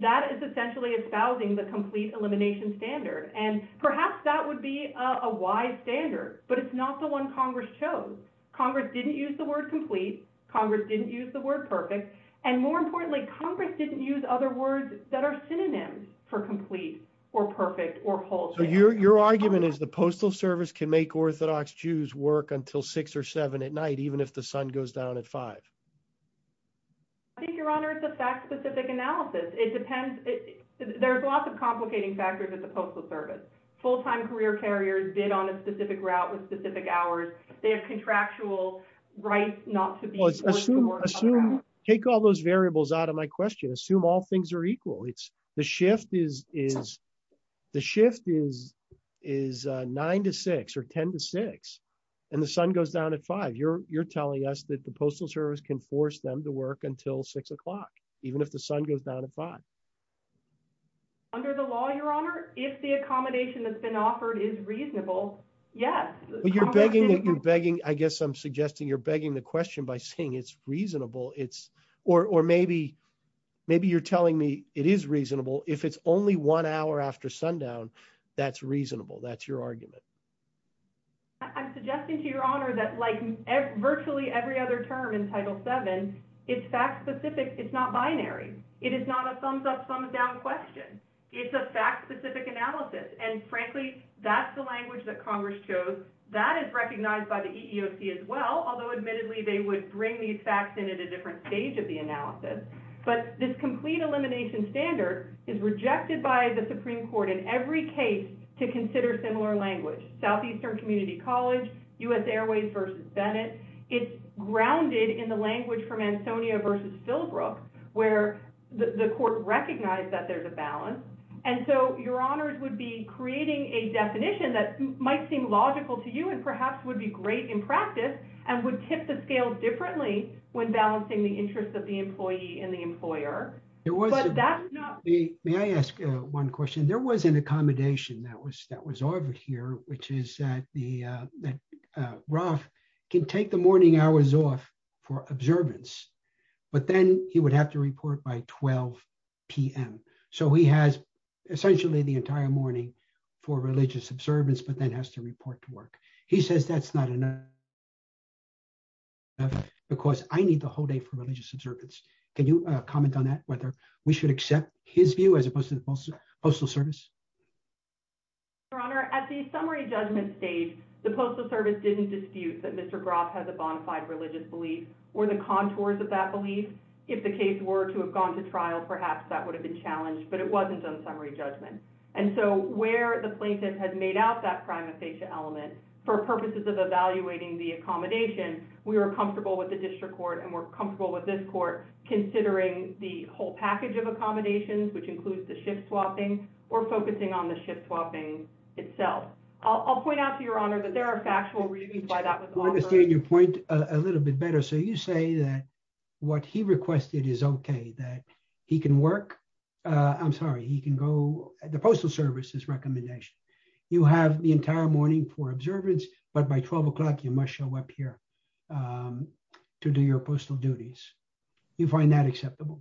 that is essentially espousing the complete elimination standard. And perhaps that would be a wise standard, but it's not the one Congress chose. Congress didn't use the word complete. Congress didn't use the word perfect. And more importantly, Congress didn't use other words that are synonyms for complete or perfect or whole. So your argument is the Postal Service can make Orthodox Jews work until six or seven at night, even if the sun goes down at five. I think, your honor, it's a fact-specific analysis. It depends. There's lots of complicating factors at the Postal Service. Full-time career carriers bid on a specific route with specific hours. They have contractual rights not to be- Take all those variables out of my question. Assume all things are equal. The shift is is nine to six or 10 to six, and the sun goes down at five. You're telling us that the Postal Service can force them to work until six o'clock, even if the sun goes down at five. Under the law, your honor, if the accommodation that's been offered is reasonable, yes. But you're begging, I guess I'm suggesting you're begging the question by saying it's reasonable. Or maybe you're telling me it is reasonable if it's only one hour after sundown that's reasonable. That's your argument. I'm suggesting to your honor that like virtually every other term in Title VII, it's fact-specific. It's not binary. It is not a thumbs-up, thumbs-down question. It's a fact-specific analysis. And frankly, that's the language that Congress chose. That is recognized by the EEOC as well, although admittedly they would bring these facts in at a different stage of the analysis. But this complete elimination standard is rejected by the Supreme Court in every case to consider similar language, Southeastern Community College, U.S. Airways versus Bennett. It's grounded in the language from Ansonia versus Philbrook, where the court recognized that there's a balance. And so your honors would be creating a definition that might seem logical to you and perhaps would be great in practice and would tip the scales differently when balancing the interests of the employee and the employer. May I ask one question? There was an accommodation that was offered here, which is that Ralph can take the morning hours off for observance, but then he would have to report by 12 p.m. So he has essentially the entire morning for religious observance, but then has to report to work. He says that's not enough because I need the whole day for observance. So I'm wondering if you could comment on that, whether we should accept his view as opposed to the Postal Service? Your honor, at the summary judgment stage, the Postal Service didn't dispute that Mr. Groff has a bonafide religious belief or the contours of that belief. If the case were to have gone to trial, perhaps that would have been challenged, but it wasn't on summary judgment. And so where the plaintiff had made out that prima facie element for purposes of evaluating the accommodation, we were comfortable with the district court and we're comfortable with this court considering the whole package of accommodations, which includes the shift swapping or focusing on the shift swapping itself. I'll point out to your honor that there are factual reasons why that was offered. I understand your point a little bit better. So you say that what he requested is okay, that he can work. I'm sorry, he can go at the Postal Service, this recommendation. You have the entire morning for observance, but by 12 o'clock you must show up here to do your postal duties. You find that acceptable?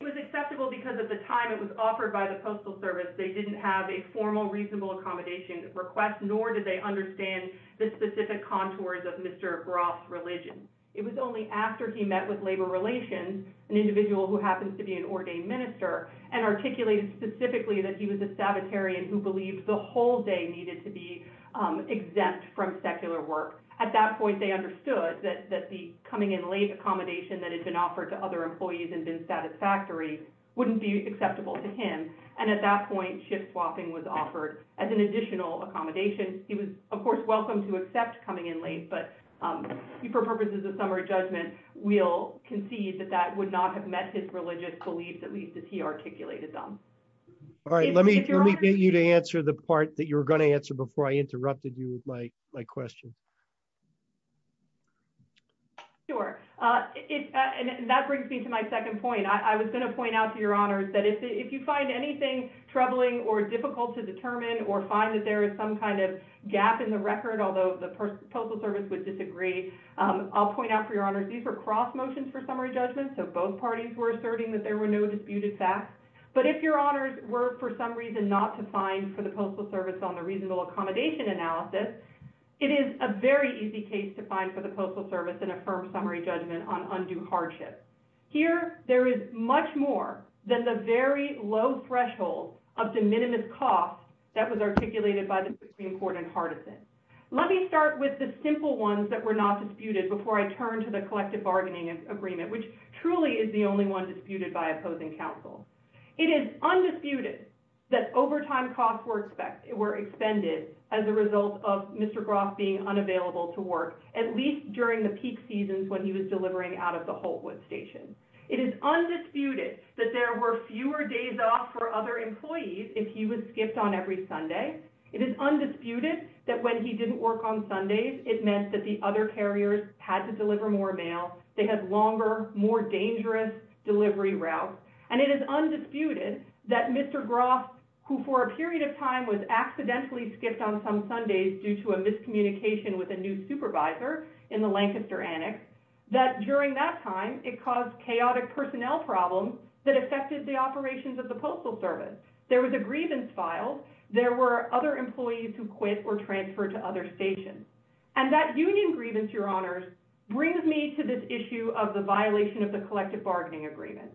It was acceptable because at the time it was offered by the Postal Service, they didn't have a formal reasonable accommodation request, nor did they understand the specific contours of Mr. Groff's religion. It was only after he met with labor relations, an individual who happens to be an ordained minister, and articulated specifically that he was a Sabbatarian who believed the whole needed to be exempt from secular work. At that point, they understood that the coming in late accommodation that had been offered to other employees and been satisfactory wouldn't be acceptable to him. And at that point, shift swapping was offered as an additional accommodation. He was, of course, welcome to accept coming in late, but for purposes of summary judgment, we'll concede that that would not have met his religious beliefs, at least as he articulated them. All right, let me get you to answer the part that you were going to answer before I interrupted you with my question. Sure. And that brings me to my second point. I was going to point out to your honors that if you find anything troubling or difficult to determine or find that there is some kind of gap in the record, although the Postal Service would disagree, I'll point out for your honors, these are cross motions for summary judgment. So both parties were disputed back. But if your honors were for some reason not to find for the Postal Service on the reasonable accommodation analysis, it is a very easy case to find for the Postal Service in a firm summary judgment on undue hardship. Here, there is much more than the very low threshold of the minimum cost that was articulated by the Supreme Court in Partisan. Let me start with the simple ones that were not disputed before I turn to the collective bargaining agreement, which truly is the only one disputed by opposing counsel. It is undisputed that overtime costs were expended as a result of Mr. Groff being unavailable to work, at least during the peak seasons when he was delivering out of the Holtwood station. It is undisputed that there were fewer days off for other employees if he would skip on every Sunday. It is undisputed that when he didn't work on Sundays, it meant that the other carriers had to deliver more mail. They had longer, more dangerous delivery routes. And it is undisputed that Mr. Groff, who for a period of time was accidentally skipped on some Sundays due to a miscommunication with a new supervisor in the Lancaster annex, that during that time it caused chaotic personnel problems that affected the operations of the Postal Service. There was a grievance filed. There were other employees who quit or transferred to other stations. And that union grievance, your honors, brings me to this violation of the collective bargaining agreement.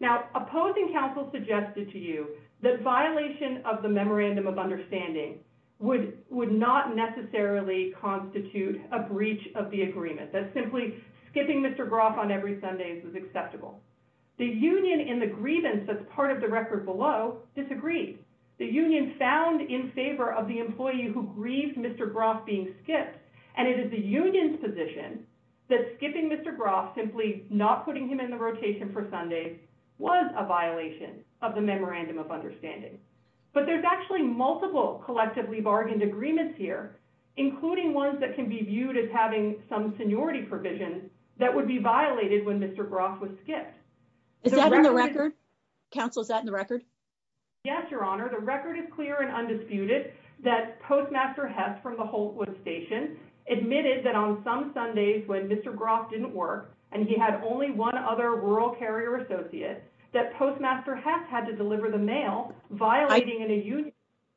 Now, opposing counsel suggested to you that violation of the memorandum of understanding would not necessarily constitute a breach of the agreement. That simply skipping Mr. Groff on every Sunday was acceptable. The union in the grievance that's part of the record below disagreed. The union found in favor of the employee who skipped. The union's position that skipping Mr. Groff, simply not putting him in the rotation for Sundays, was a violation of the memorandum of understanding. But there's actually multiple collectively bargained agreements here, including ones that can be viewed as having some seniority provision that would be violated when Mr. Groff was skipped. Is that in the record? Counsel, is that in the record? Yes, your honor. The record is clear and undisputed that Postmaster Hess from the on some Sundays when Mr. Groff didn't work and he had only one other rural carrier associate that Postmaster Hess had to deliver the mail violating the union.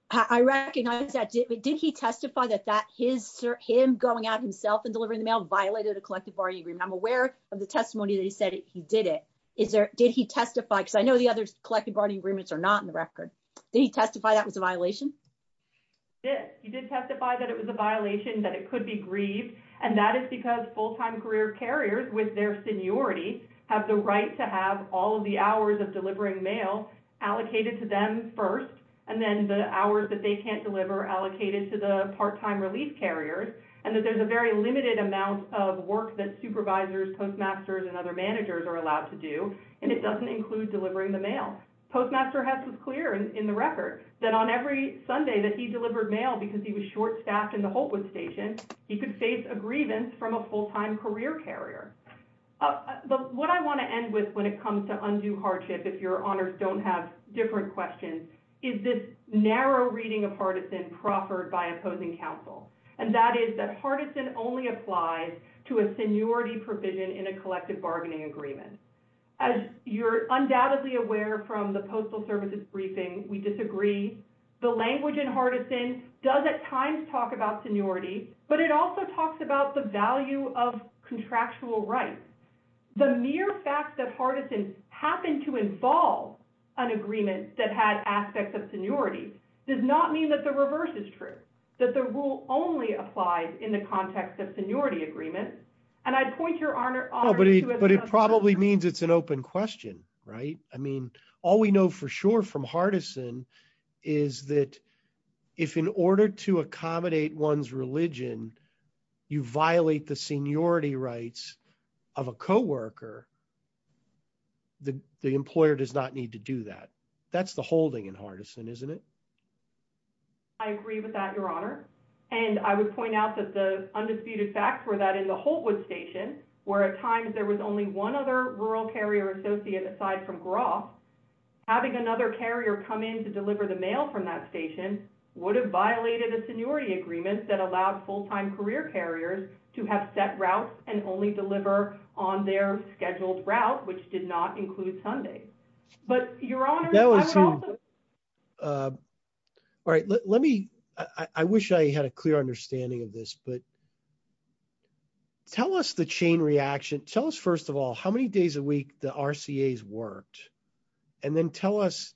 I recognize that, but did he testify that that his, him going out himself and delivering the mail violated the collective bargaining agreement? I'm aware of the testimony that he said he did it. Is there, did he testify, because I know the other collective bargaining agreements are not in the record. Did he testify that was a violation? Yes, he did testify that it was a violation, that it could be grieved, and that is because full-time career carriers with their seniority have the right to have all of the hours of delivering mail allocated to them first, and then the hours that they can't deliver allocated to the part-time relief carriers, and that there's a very limited amount of work that supervisors, postmasters, and other managers are allowed to do, and it doesn't include delivering the mail. Postmaster Hess was clear in the record that on every Sunday that he delivered mail because he was short-staffed in the Holtwood station, he could face a grievance from a full-time career carrier. But what I want to end with when it comes to undue hardship, if your honors don't have different questions, is this narrow reading of partisan proffered by opposing counsel, and that is that partisan only applies to a seniority provision in a collective bargaining agreement. As you're undoubtedly aware from the postal services briefing, we disagree. The language in partisan does at times talk about seniority, but it also talks about the value of contractual rights. The mere fact that partisan happened to involve an agreement that had aspects of seniority does not mean that the reverse is true, that the rule only applies in the context of seniority agreement. And I'd point your honor... But it probably means it's an open question, right? I mean, all we know for sure from partisan is that if in order to accommodate one's religion, you violate the seniority rights of a co-worker, the employer does not need to do that. That's the holding in partisan, isn't it? I agree with that, your honor, and I would point out that the disputed facts were that in the Holtwood station, where at times there was only one other rural carrier associate aside from Groff, having another carrier come in to deliver the mail from that station would have violated a seniority agreement that allowed full-time career carriers to have set routes and only deliver on their scheduled route, which did not include Sunday. But your honor... All right, let me... I wish I had a clear understanding of this, but tell us the chain reaction. Tell us, first of all, how many days a week the RCA's worked, and then tell us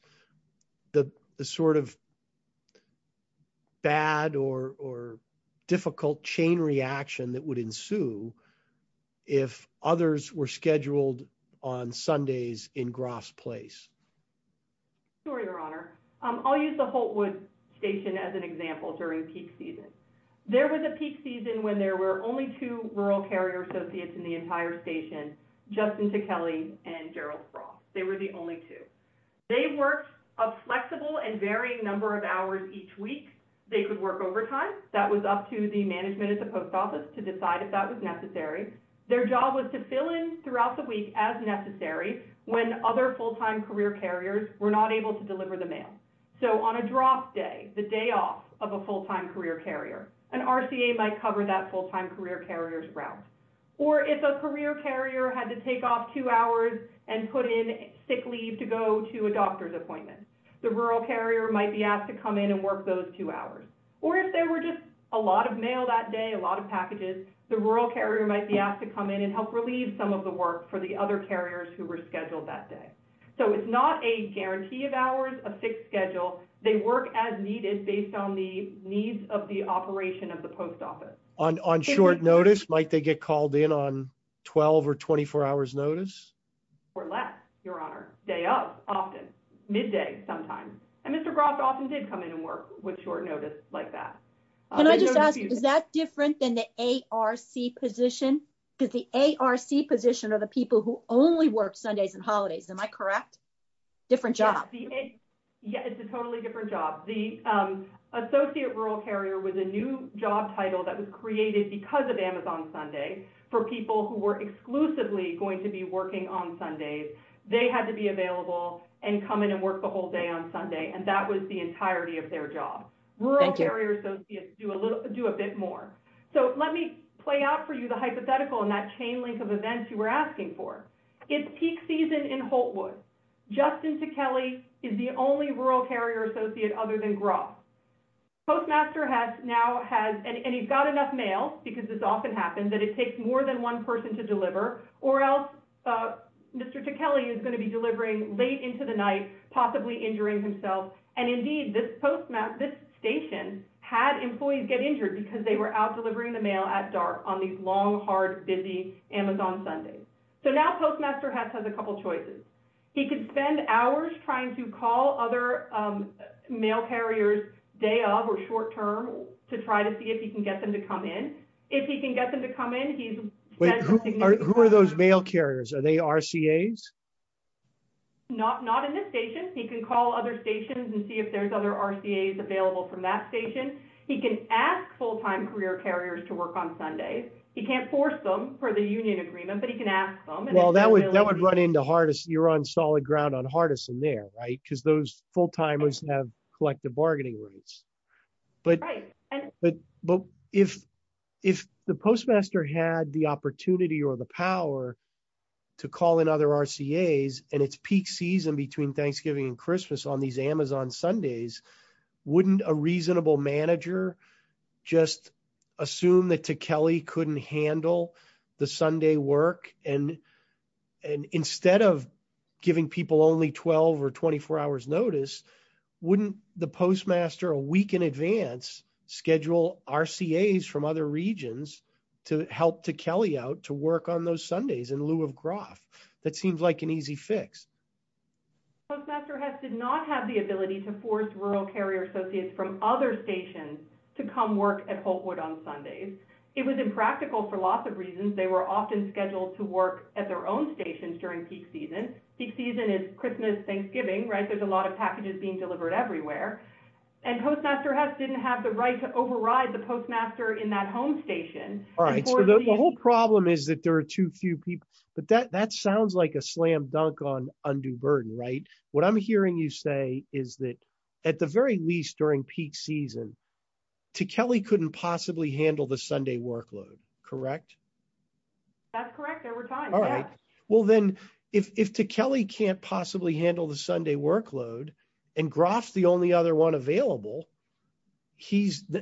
the sort of bad or difficult chain reaction that would ensue if others were scheduled on Sundays in Groff's place. Sure, your honor. I'll use the Holtwood station as an example during peak season. There was a peak season when there were only two rural carrier associates in the entire station, Justin Tichelli and Gerald Frost. They were the only two. They worked a flexible and varying number of hours each week. They could work overtime. That was up to the management of the post office to decide if that was necessary. Their job was to fill in throughout the week as necessary when other full-time career carriers were not able to deliver the mail. So on a Groff day, the day off of a full-time career carrier, an RCA might cover that full-time career carrier's route. Or if a career carrier had to take off two hours and put in sick leave to go to a doctor's appointment, the rural carrier might be asked to come in and work those two hours. Or if there were just a lot of mail that day, a lot of packages, the rural carrier might be asked to come in and help relieve some of the work for the other carriers who were scheduled that day. So it's not a guarantee of hours, a fixed schedule. They work as needed based on the needs of the operation of the post office. On short notice, might they get called in on 12 or 24 hours notice? Or less, your honor. Day off, often. Midday, sometimes. And Mr. Groff often did come in and work with short notice like that. Is that different than the ARC position? Because the ARC position are the people who only work Sundays and holidays. Am I correct? Different job. Yeah, it's a totally different job. The Associate Rural Carrier was a new job title that was created because of Amazon Sunday for people who were exclusively going to be working on Sundays. They had to be available and come in and work the whole day on Sunday. And that was the entirety of their job. Rural Carrier Associates do a bit more. So let me play out for you the hypothetical and that chain link of events you were asking for. It's peak season in Holtwood. Justin Ticheli is the only Rural Carrier Associate other than Groff. Postmaster now has, and he's got enough mail, because this often happens, that it takes more than one person to deliver. Or else Mr. Ticheli is going to be delivering late into the night, possibly injuring himself. And indeed, this station had employees get injured because they were out delivering the mail at dark on these long, hard, busy Amazon Sundays. So now Postmaster Hess has a couple choices. He could spend hours trying to call other mail carriers day of or short term to try to see if he can get them to come in. If he can get them to come in, he's- Who are those mail carriers? Are they RCAs? Not in this station. He can call other stations and see if there's other RCAs available from that station. He can ask full-time career carriers to work on Sundays. He can't force them for the union agreement, but he can ask them. Well, that would run into hardest. You're on solid ground on Hardison there, right? Because those full-timers have collective bargaining orders. But if the Postmaster had the opportunity or the power to call in other RCAs and it's peak season between Thanksgiving and Christmas on these Amazon Sundays, wouldn't a reasonable manager just assume that Ticheli couldn't handle the Sunday work? And instead of giving people only 12 or 24 hours notice, wouldn't the Postmaster a week in advance schedule RCAs from other regions to help Ticheli out to work on those Sundays in lieu of graft? That seems like an easy fix. Postmaster Hess did not have the ability to force rural carrier associates from other stations to come work at Hopewood on Sundays. It was impractical for lots of reasons. They were Thanksgiving, right? There's a lot of packages being delivered everywhere. And Postmaster Hess didn't have the right to override the Postmaster in that home station. All right. So the whole problem is that there are too few people. But that sounds like a slam dunk on undue burden, right? What I'm hearing you say is that at the very least during peak season, Ticheli couldn't possibly handle the Sunday workload, correct? That's correct. There were times. All right. Well, then if Ticheli can't possibly handle the Sunday workload and Graf's the only other one available,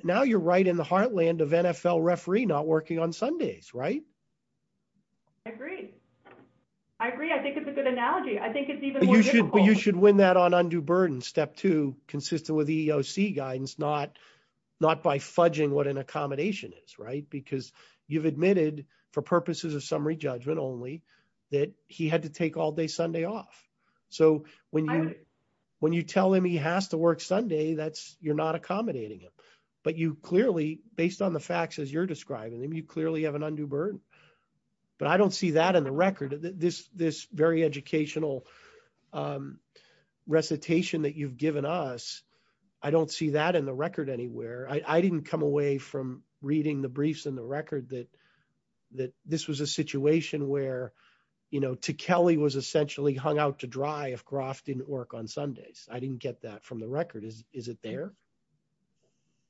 now you're right in the heartland of NFL referee not working on Sundays, right? I agree. I agree. I think it's a good analogy. I think it's even more difficult. You should win that on undue burden, step two, consistent with EEOC guidance, not by fudging what an accommodation is, right? Because you've admitted for purposes of summary judgment only that he had to take all day Sunday off. So when you tell him he has to work Sunday, you're not accommodating him. But you clearly, based on the facts as you're describing them, you clearly have an undue burden. But I don't see that in the record. This very educational recitation that you've given us, I don't see that in the record anywhere. I didn't come away from the briefs and the record that this was a situation where Ticheli was essentially hung out to dry if Graf didn't work on Sundays. I didn't get that from the record. Is it there?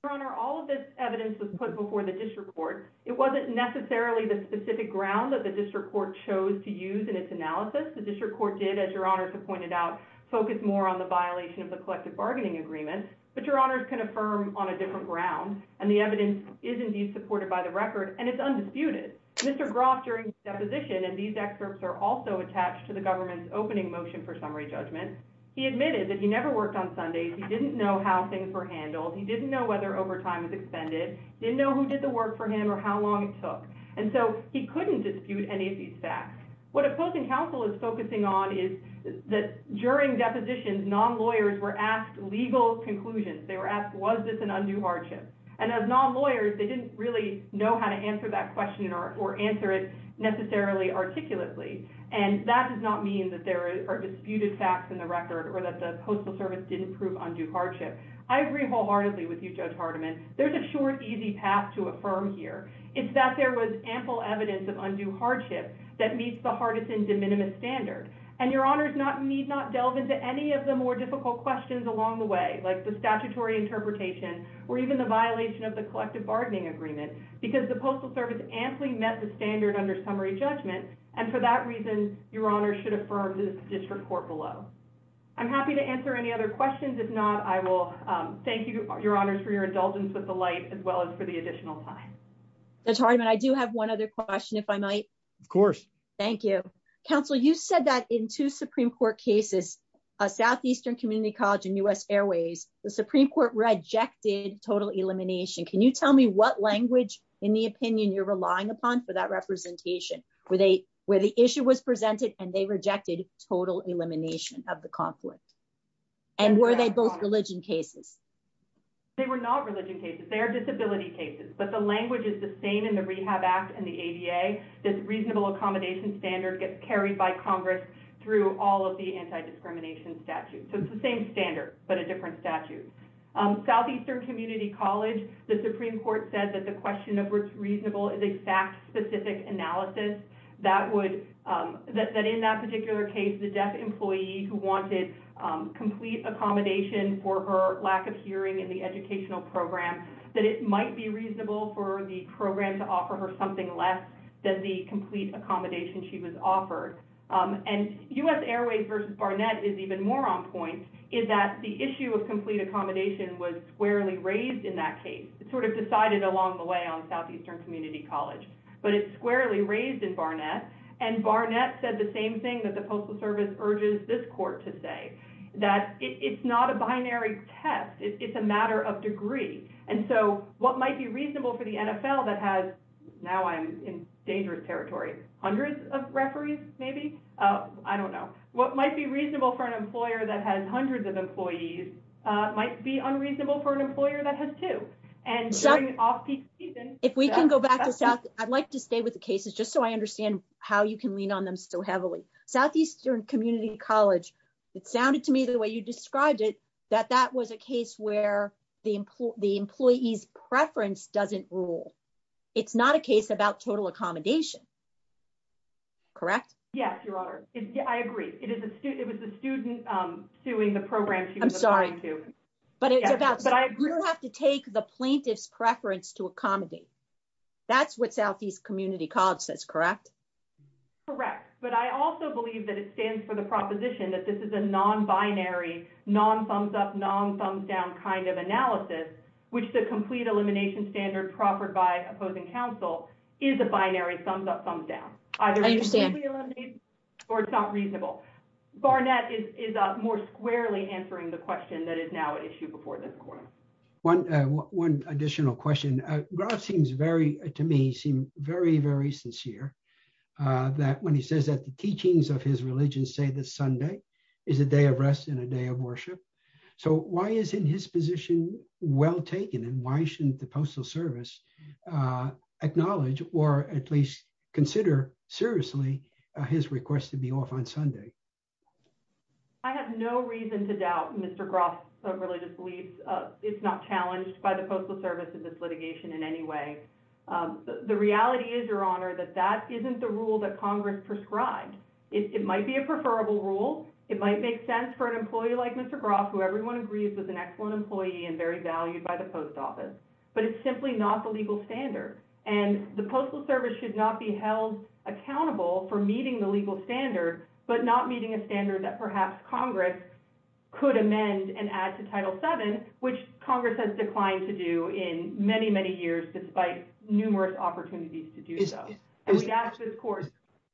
Your Honor, all of this evidence was put before the district court. It wasn't necessarily the specific ground that the district court chose to use in its analysis. The district court did, as Your Honor has pointed out, focus more on the violation of the collective bargaining agreement. But Your Honors can affirm on a different ground. And the evidence is indeed supported by the record. And it's undisputed. Mr. Graf, during the deposition, and these experts are also attached to the government's opening motion for summary judgment, he admitted that he never worked on Sundays. He didn't know how things were handled. He didn't know whether overtime was extended. Didn't know who did the work for him or how long it took. And so he couldn't dispute any of these facts. What Appellate Counsel is focusing on is that during depositions, non-lawyers were asked legal conclusions. They were asked, was this an undue hardship? And as non-lawyers, they didn't really know how to answer that question or answer it necessarily articulately. And that does not mean that there are disputed facts in the record or that the Postal Service didn't prove undue hardship. I agree wholeheartedly with you, Judge Hardiman. There's a short, easy path to affirm here. It's that there was ample evidence of undue hardship that meets the hardest and de minimis standard. And, Your Honors, you need not delve into any of the more difficult questions along the way, like the statutory interpretation or even the violation of the collective bargaining agreement, because the Postal Service amply met the standard under summary judgment. And for that reason, Your Honors should affirm this District Court below. I'm happy to answer any other questions. If not, I will thank you, Your Honors, for your indulgence with the light as well as for the additional time. Judge Hardiman, I do have one other question, if I might. Of course. Thank you. Counsel, you said that in two Supreme Court cases, Southeastern Community College and U.S. Airways, the Supreme Court rejected total elimination. Can you tell me what language in the opinion you're relying upon for that representation, where the issue was presented and they rejected total elimination of the conflict? And were they both religion cases? They were not religion cases. They are disability cases. But the language is the same in the Rehab Act and the ADA. This reasonable accommodation standard gets carried by Congress through all of the anti-discrimination statutes. So it's the same standard, but a different statute. Southeastern Community College, the Supreme Court said that the question of what's reasonable is exact, specific analysis. That in that particular case, the deaf employee who wanted complete accommodation for her lack of hearing in the educational program, that it might be reasonable for the program to offer her something less than the complete accommodation she was offered. And U.S. Airways versus Barnett is even more on point, is that the issue of complete accommodation was squarely raised in that case. It sort of decided along the way on Southeastern Community College. But it's squarely raised in Barnett. And Barnett said the same thing that the Postal Service urges this court to say, that it's not a binary test. It's a matter of degree. And so what might be reasonable for the NFL that has, now I'm in dangerous territory, hundreds of referees, maybe? I don't know. What might be reasonable for an employer that has hundreds of employees might be unreasonable for an employer that has two. And during off-peak season. If we can go back, I'd like to stay with the cases just so I understand how you can lean on them so heavily. Southeastern Community College, it sounded to me the way you described it, that that was a case where the employee's preference doesn't rule. It's not a case about total accommodation. Correct? Yes, Your Honor. I agree. It was the student suing the program she was applying to. I'm sorry. But you have to take the plaintiff's preference to accommodate. That's what Southeast Community College says, correct? Correct. But I also believe that it stands for the proposition that this is a non-binary, non-thumbs-up, non-thumbs-down kind of analysis, which the complete elimination standard proffered by opposing counsel is a binary, thumbs-up, thumbs-down. I understand. Or it's not reasonable. Barnett is more squarely answering the question that is now issued before the court. One additional question. Gross seems very, to me, seems very, very sincere that when he says that the teachings of his religion say that Sunday is a day of rest and a day of worship. So why isn't his position well taken? And why shouldn't the Postal Service acknowledge or at least consider seriously his request to be off on Sunday? I have no reason to doubt Mr. Gross' religious beliefs. It's not challenged by the Postal Service in this litigation in any way. The reality is, Your Honor, that that isn't the rule that Congress prescribed. It might be a preferable rule. It might make sense for an employee like Mr. Gross, who everyone agrees is an excellent employee and very valued by the post office. But it's simply not the legal standard. And the Postal Service should not be held accountable for meeting the legal standard, but not meeting a standard that perhaps Congress could amend and add to Title VII, which Congress has declined to do in many, many years, despite numerous opportunities to do so.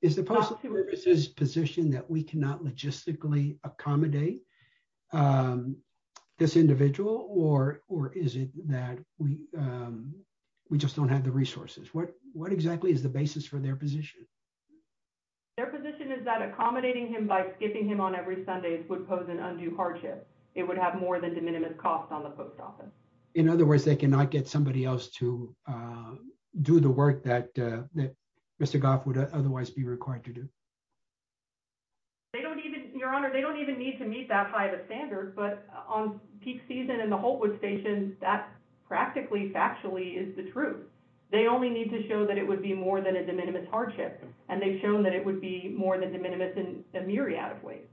Is the Postal Service's position that we cannot logistically accommodate this individual? Or is it that we just don't have the resources? What exactly is the basis for their position? Their position is that accommodating him by skipping him on every Sunday would pose an undue hardship. It would have more than de minimis costs on the post office. In other words, they cannot get somebody else to do the work that Mr. Goff would otherwise be required to do? They don't even, Your Honor, they don't even need to meet that height of standard. But on peak season in the Holtwood Station, that practically factually is the truth. They only need to show that it would be more than a de minimis hardship. And they've shown that it would be more than de minimis in a myriad of ways.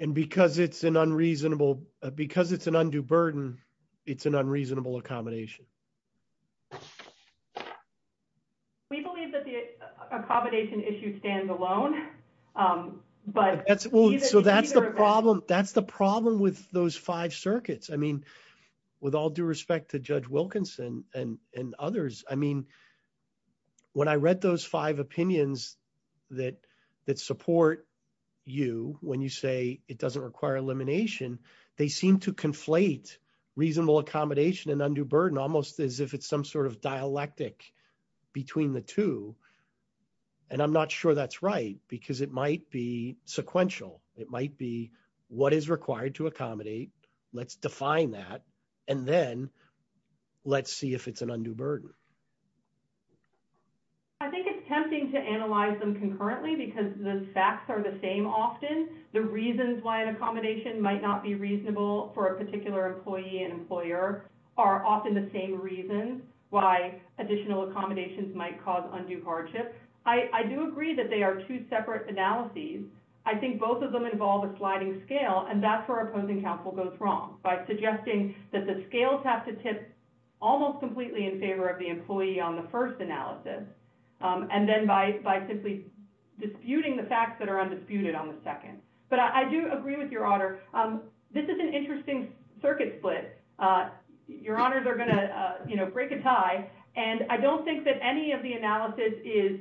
And because it's an unreasonable, because it's an undue burden, it's an unreasonable accommodation? We believe that the accommodation issue stands alone. But that's, so that's the problem, that's the problem with those five circuits. I mean, with all due respect to Judge Wilkinson and others, I mean, when I read those five opinions that support you, when you say it doesn't require elimination, they seem to conflate reasonable accommodation and undue burden almost as if it's some sort of dialectic between the two. And I'm not sure that's right, because it might be sequential. It might be what is required to accommodate. Let's define that. And then let's see if it's an undue burden. I think it's tempting to analyze them concurrently, because the facts are the same often. The reasons why an accommodation might not be reasonable for a particular employee and employer are often the same reason why additional accommodations might cause undue hardship. I do agree that they are two separate analyses. I think both of them involve a sliding scale, and that's where opposing counsel goes wrong, by suggesting that the scales have to tip almost completely in favor of the employee on the first analysis, and then by simply disputing the facts that are undisputed on the second. But I do agree with Your Honor, this is an interesting circuit split. Your Honors are going to, you know, break a tie, and I don't think that any of the analysis is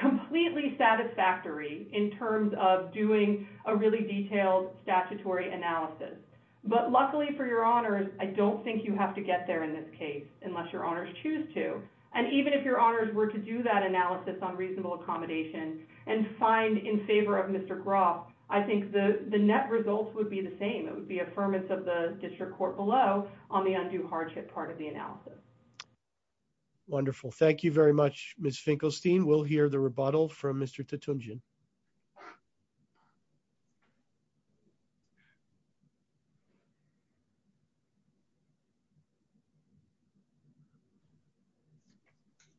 completely satisfactory in terms of doing a really detailed statutory analysis. But luckily for Your Honors, I don't think you have to get there in this case, unless Your Honors choose to. And even if Your Honors were to do that analysis on reasonable accommodation and find in favor of Mr. Groff, I think the net results would be the same. It would be affirmance of the district court below on the undue hardship part of the case. Wonderful. Thank you very much, Ms. Finkelstein. We'll hear the rebuttal from Mr. Titumjian.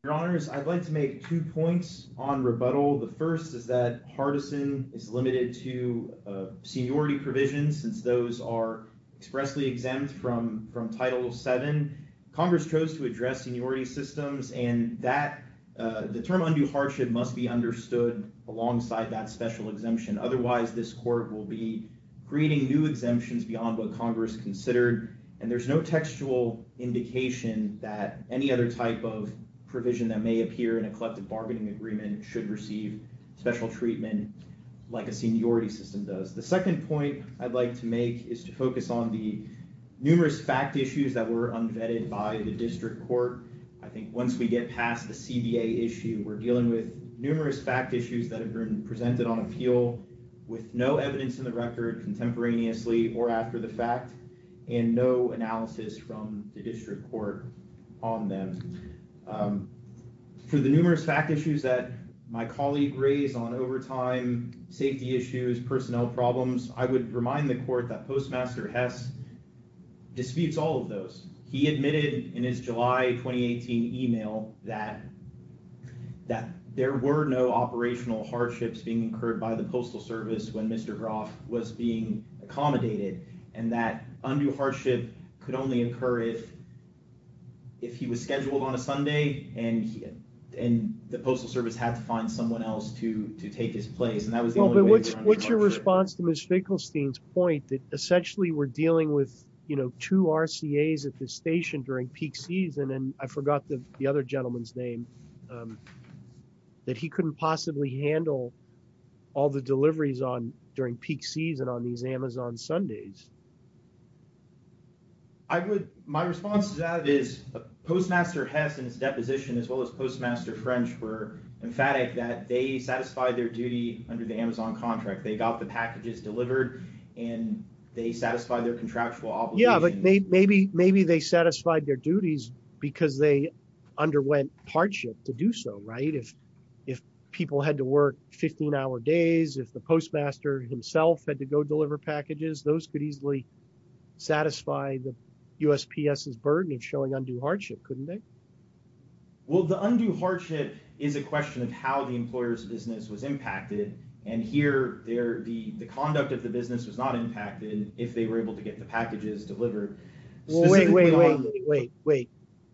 Your Honors, I'd like to make two points on rebuttal. The first is that partisan is limited to seniority provisions, since those are expressly exempt from Title VII. Congress chose to address seniority systems, and the term undue hardship must be understood alongside that special exemption. Otherwise, this court will be creating new exemptions beyond what Congress considered, and there's no textual indication that any other type of provision that may appear in a collective bargaining agreement should receive special treatment like a seniority system does. The second point I'd like to make is to focus on the district court. I think once we get past the CBA issue, we're dealing with numerous fact issues that have been presented on appeal with no evidence in the record contemporaneously or after the fact, and no analysis from the district court on them. To the numerous fact issues that my colleague raised on overtime, safety issues, personnel problems, I would remind the court that in his July 2018 email that there were no operational hardships being incurred by the Postal Service when Mr. Groff was being accommodated, and that undue hardship could only occur if he was scheduled on a Sunday and the Postal Service had to find someone else to take his place. What's your response to Ms. Finkelstein's point that essentially we're at the station during peak season, and I forgot the other gentleman's name, that he couldn't possibly handle all the deliveries during peak season on these Amazon Sundays? My response to that is Postmaster Hess and his deposition as well as Postmaster French were emphatic that they satisfied their duty under the Amazon contract. They got the packages delivered and they satisfied their contractual obligations. Yeah, but maybe they satisfied their duties because they underwent hardship to do so, right? If people had to work 15-hour days, if the postmaster himself had to go deliver packages, those could easily satisfy the USPS's burden of showing undue hardship, couldn't they? Well, the undue hardship is a question of how the employer's business was impacted, and here the conduct of the business is not impacted if they were able to get the packages delivered. Wait, wait, wait.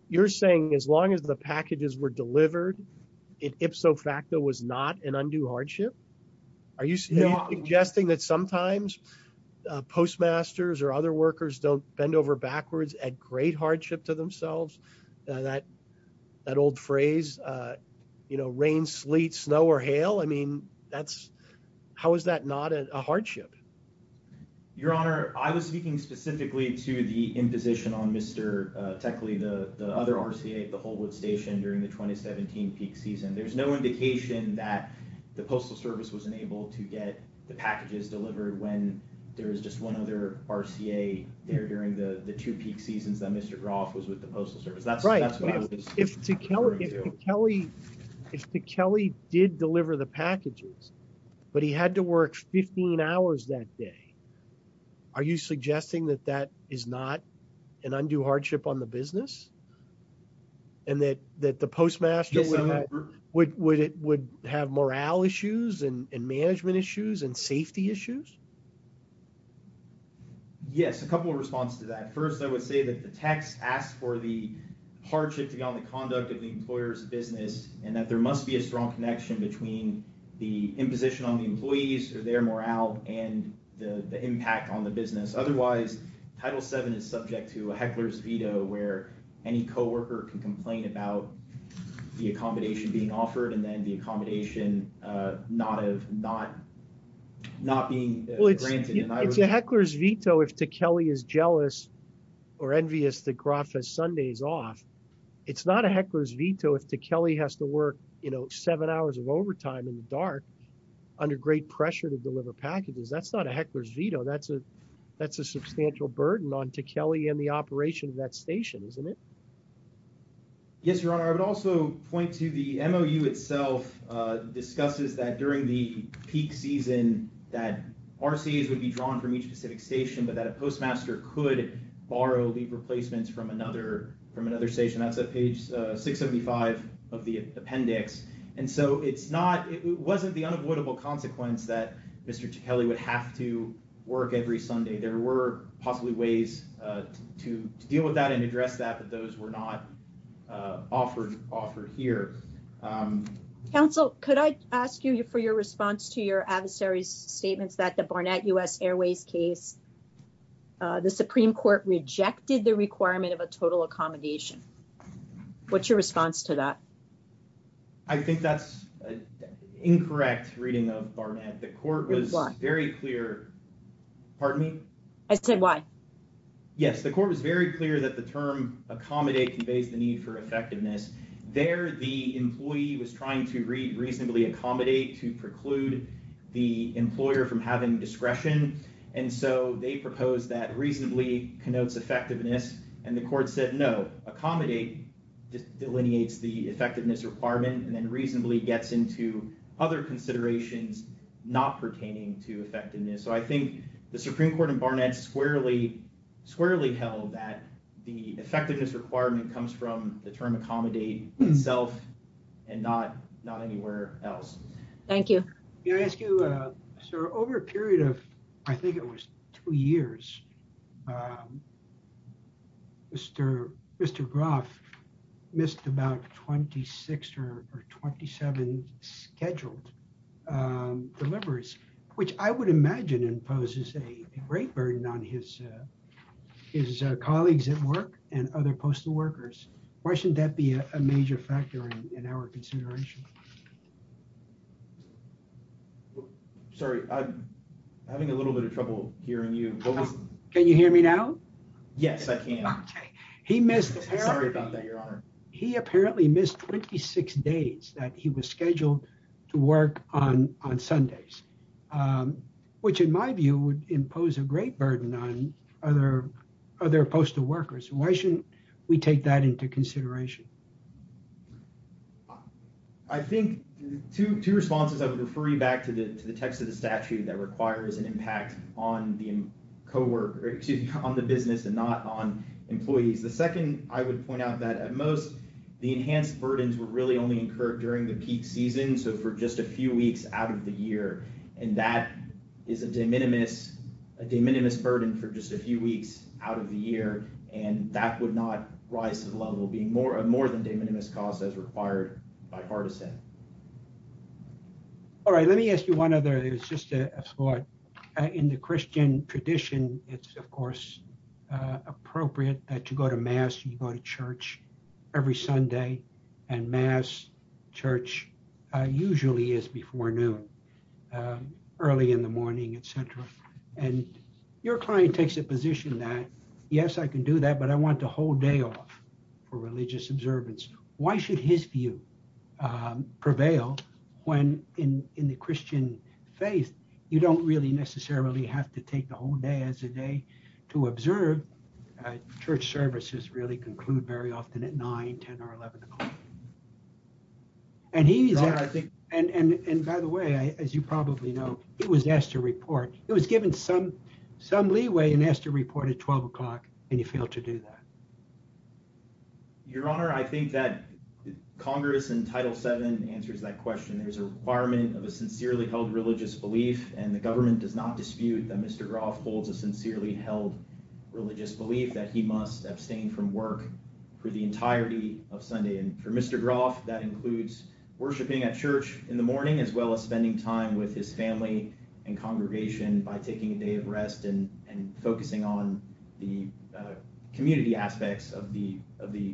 You're saying as long as the packages were delivered, it ipso facto was not an undue hardship? Are you suggesting that sometimes postmasters or other workers don't bend over backwards at great hardship to themselves? That old phrase, you know, rain, sleet, snow, or hail? I mean, how is that not a hardship? Your Honor, I was speaking specifically to the imposition on Mr. Teckley, the other RCA at the Holwood Station during the 2017 peak season. There's no indication that the Postal Service was unable to get the packages delivered when there was just one other RCA there during the two peak seasons that Mr. Groff was with the Postal Service. Right. If Teckley did deliver the packages, but he had to work 15 hours that day, are you suggesting that that is not an undue hardship on the business? And that the postmaster would have morale issues and management issues and safety issues? Yes, a couple of responses to that. First, I would say that the text asks for the hardship beyond the conduct of the employer's business and that there must be a strong connection between the imposition on the employees or their morale and the impact on the business. Otherwise, Title VII is subject to a heckler's veto where any co-worker can not being granted. It's a heckler's veto if Teckley is jealous or envious that Groff has Sundays off. It's not a heckler's veto if Teckley has to work, you know, seven hours of overtime in the dark under great pressure to deliver packages. That's not a heckler's veto. That's a substantial burden on Teckley and the operation of that station, isn't it? Yes, Your Honor. I would also point to the MOU itself discusses that during the peak season that RCAs would be drawn from each specific station but that a postmaster could borrow leave replacements from another from another station. That's at page 675 of the appendix. And so it's not, it wasn't the unavoidable consequence that Mr. Teckley would have to work every Sunday. There were possibly to deal with that and address that but those were not offered here. Counsel, could I ask you for your response to your adversary's statements that the Barnett U.S. Airways case, the Supreme Court rejected the requirement of a total accommodation. What's your response to that? I think that's an incorrect reading of Barnett. The court was very clear, pardon me? I said why? Yes, the court was very clear that the term accommodate conveys the need for effectiveness. There the employee was trying to reasonably accommodate to preclude the employer from having discretion and so they proposed that reasonably connotes effectiveness and the court said no, accommodate delineates the effectiveness requirement and then reasonably gets into other considerations not pertaining to effectiveness. So I think the Supreme Court and Barnett squarely held that the effectiveness requirement comes from the term accommodate itself and not anywhere else. Thank you. Can I ask you, sir, over a period of I think it was two years, Mr. Groff missed about 26 or 27 scheduled deliveries which I would imagine imposes a great burden on his colleagues at work and other postal workers. Why shouldn't that be a major factor in our consideration? Sorry, I'm having a little bit of trouble hearing you. Can you hear me now? Yes, I can. He apparently missed 26 days that he was scheduled to work on Sundays which in my view would impose a great burden on other postal workers. Why shouldn't we take that into consideration? I think two responses, I would refer you back to the text of the statute that requires an impact on the business and not on employees. The second, I would point out that at most the enhanced burdens were really only incurred during the peak season so for just a few weeks out of the year and that is a de minimis burden for just a year and that would not rise to the level of being more than a de minimis cost as required bipartisan. All right, let me ask you one other, it's just a thought. In the Christian tradition it's of course appropriate that you go to mass, you go to church every Sunday and mass, church usually is before noon, early in the morning, etc. and your client takes a position that yes, I can do that but I want the whole day off for religious observance. Why should his view prevail when in the Christian faith you don't really necessarily have to take the whole day as a day to observe. Church services really conclude very often at 9, 10, or 11 o'clock and he needs that. And by the way, as you probably know, he was asked to report, he was given some leeway and asked to report at 12 o'clock and he failed to do that. Your Honor, I think that Congress in Title VII answers that question. There's a requirement of a sincerely held religious belief and the government does not dispute that Mr. Groff holds a sincerely held religious belief that he must abstain from work for the entirety of Sunday and for Mr. Groff that includes worshiping at church in the morning as well as spending time with his family and congregation by taking a day of rest and focusing on the community aspects of the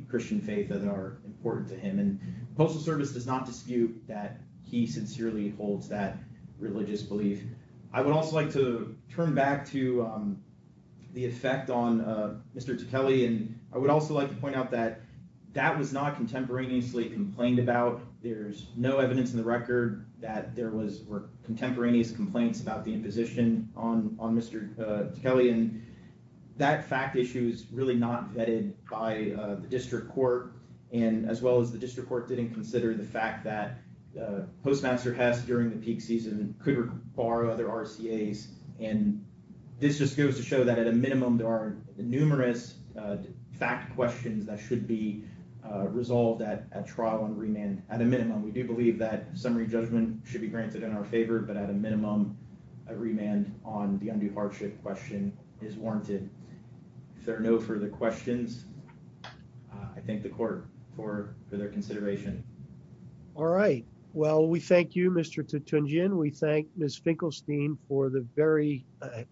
Christian faith that are important to him. And the Postal Service does not dispute that he sincerely holds that religious belief. I would also like to turn back to the effect on Mr. Tufeli and I would also like to point out that that was not contemporaneously complained about. There's no evidence in the record that there were contemporaneous complaints about the imposition on Mr. Tufeli and that fact issue is really not vetted by the district court and as well as the district court didn't consider the fact that postmaster Hess during the peak season could borrow other RCAs and this just goes to show that at a minimum there are numerous fact questions that should be resolved at a trial and remand at a minimum. We do believe that summary judgment should be granted in our favor but at a minimum a remand on the undue hardship question is warranted. If there are no further questions I thank the court for their consideration. All right well we thank you Mr. Tutunjian. We thank Ms. Finkelstein for the very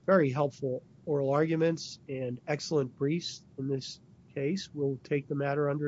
very helpful oral arguments and excellent briefs in this case. We'll take the matter under advisement.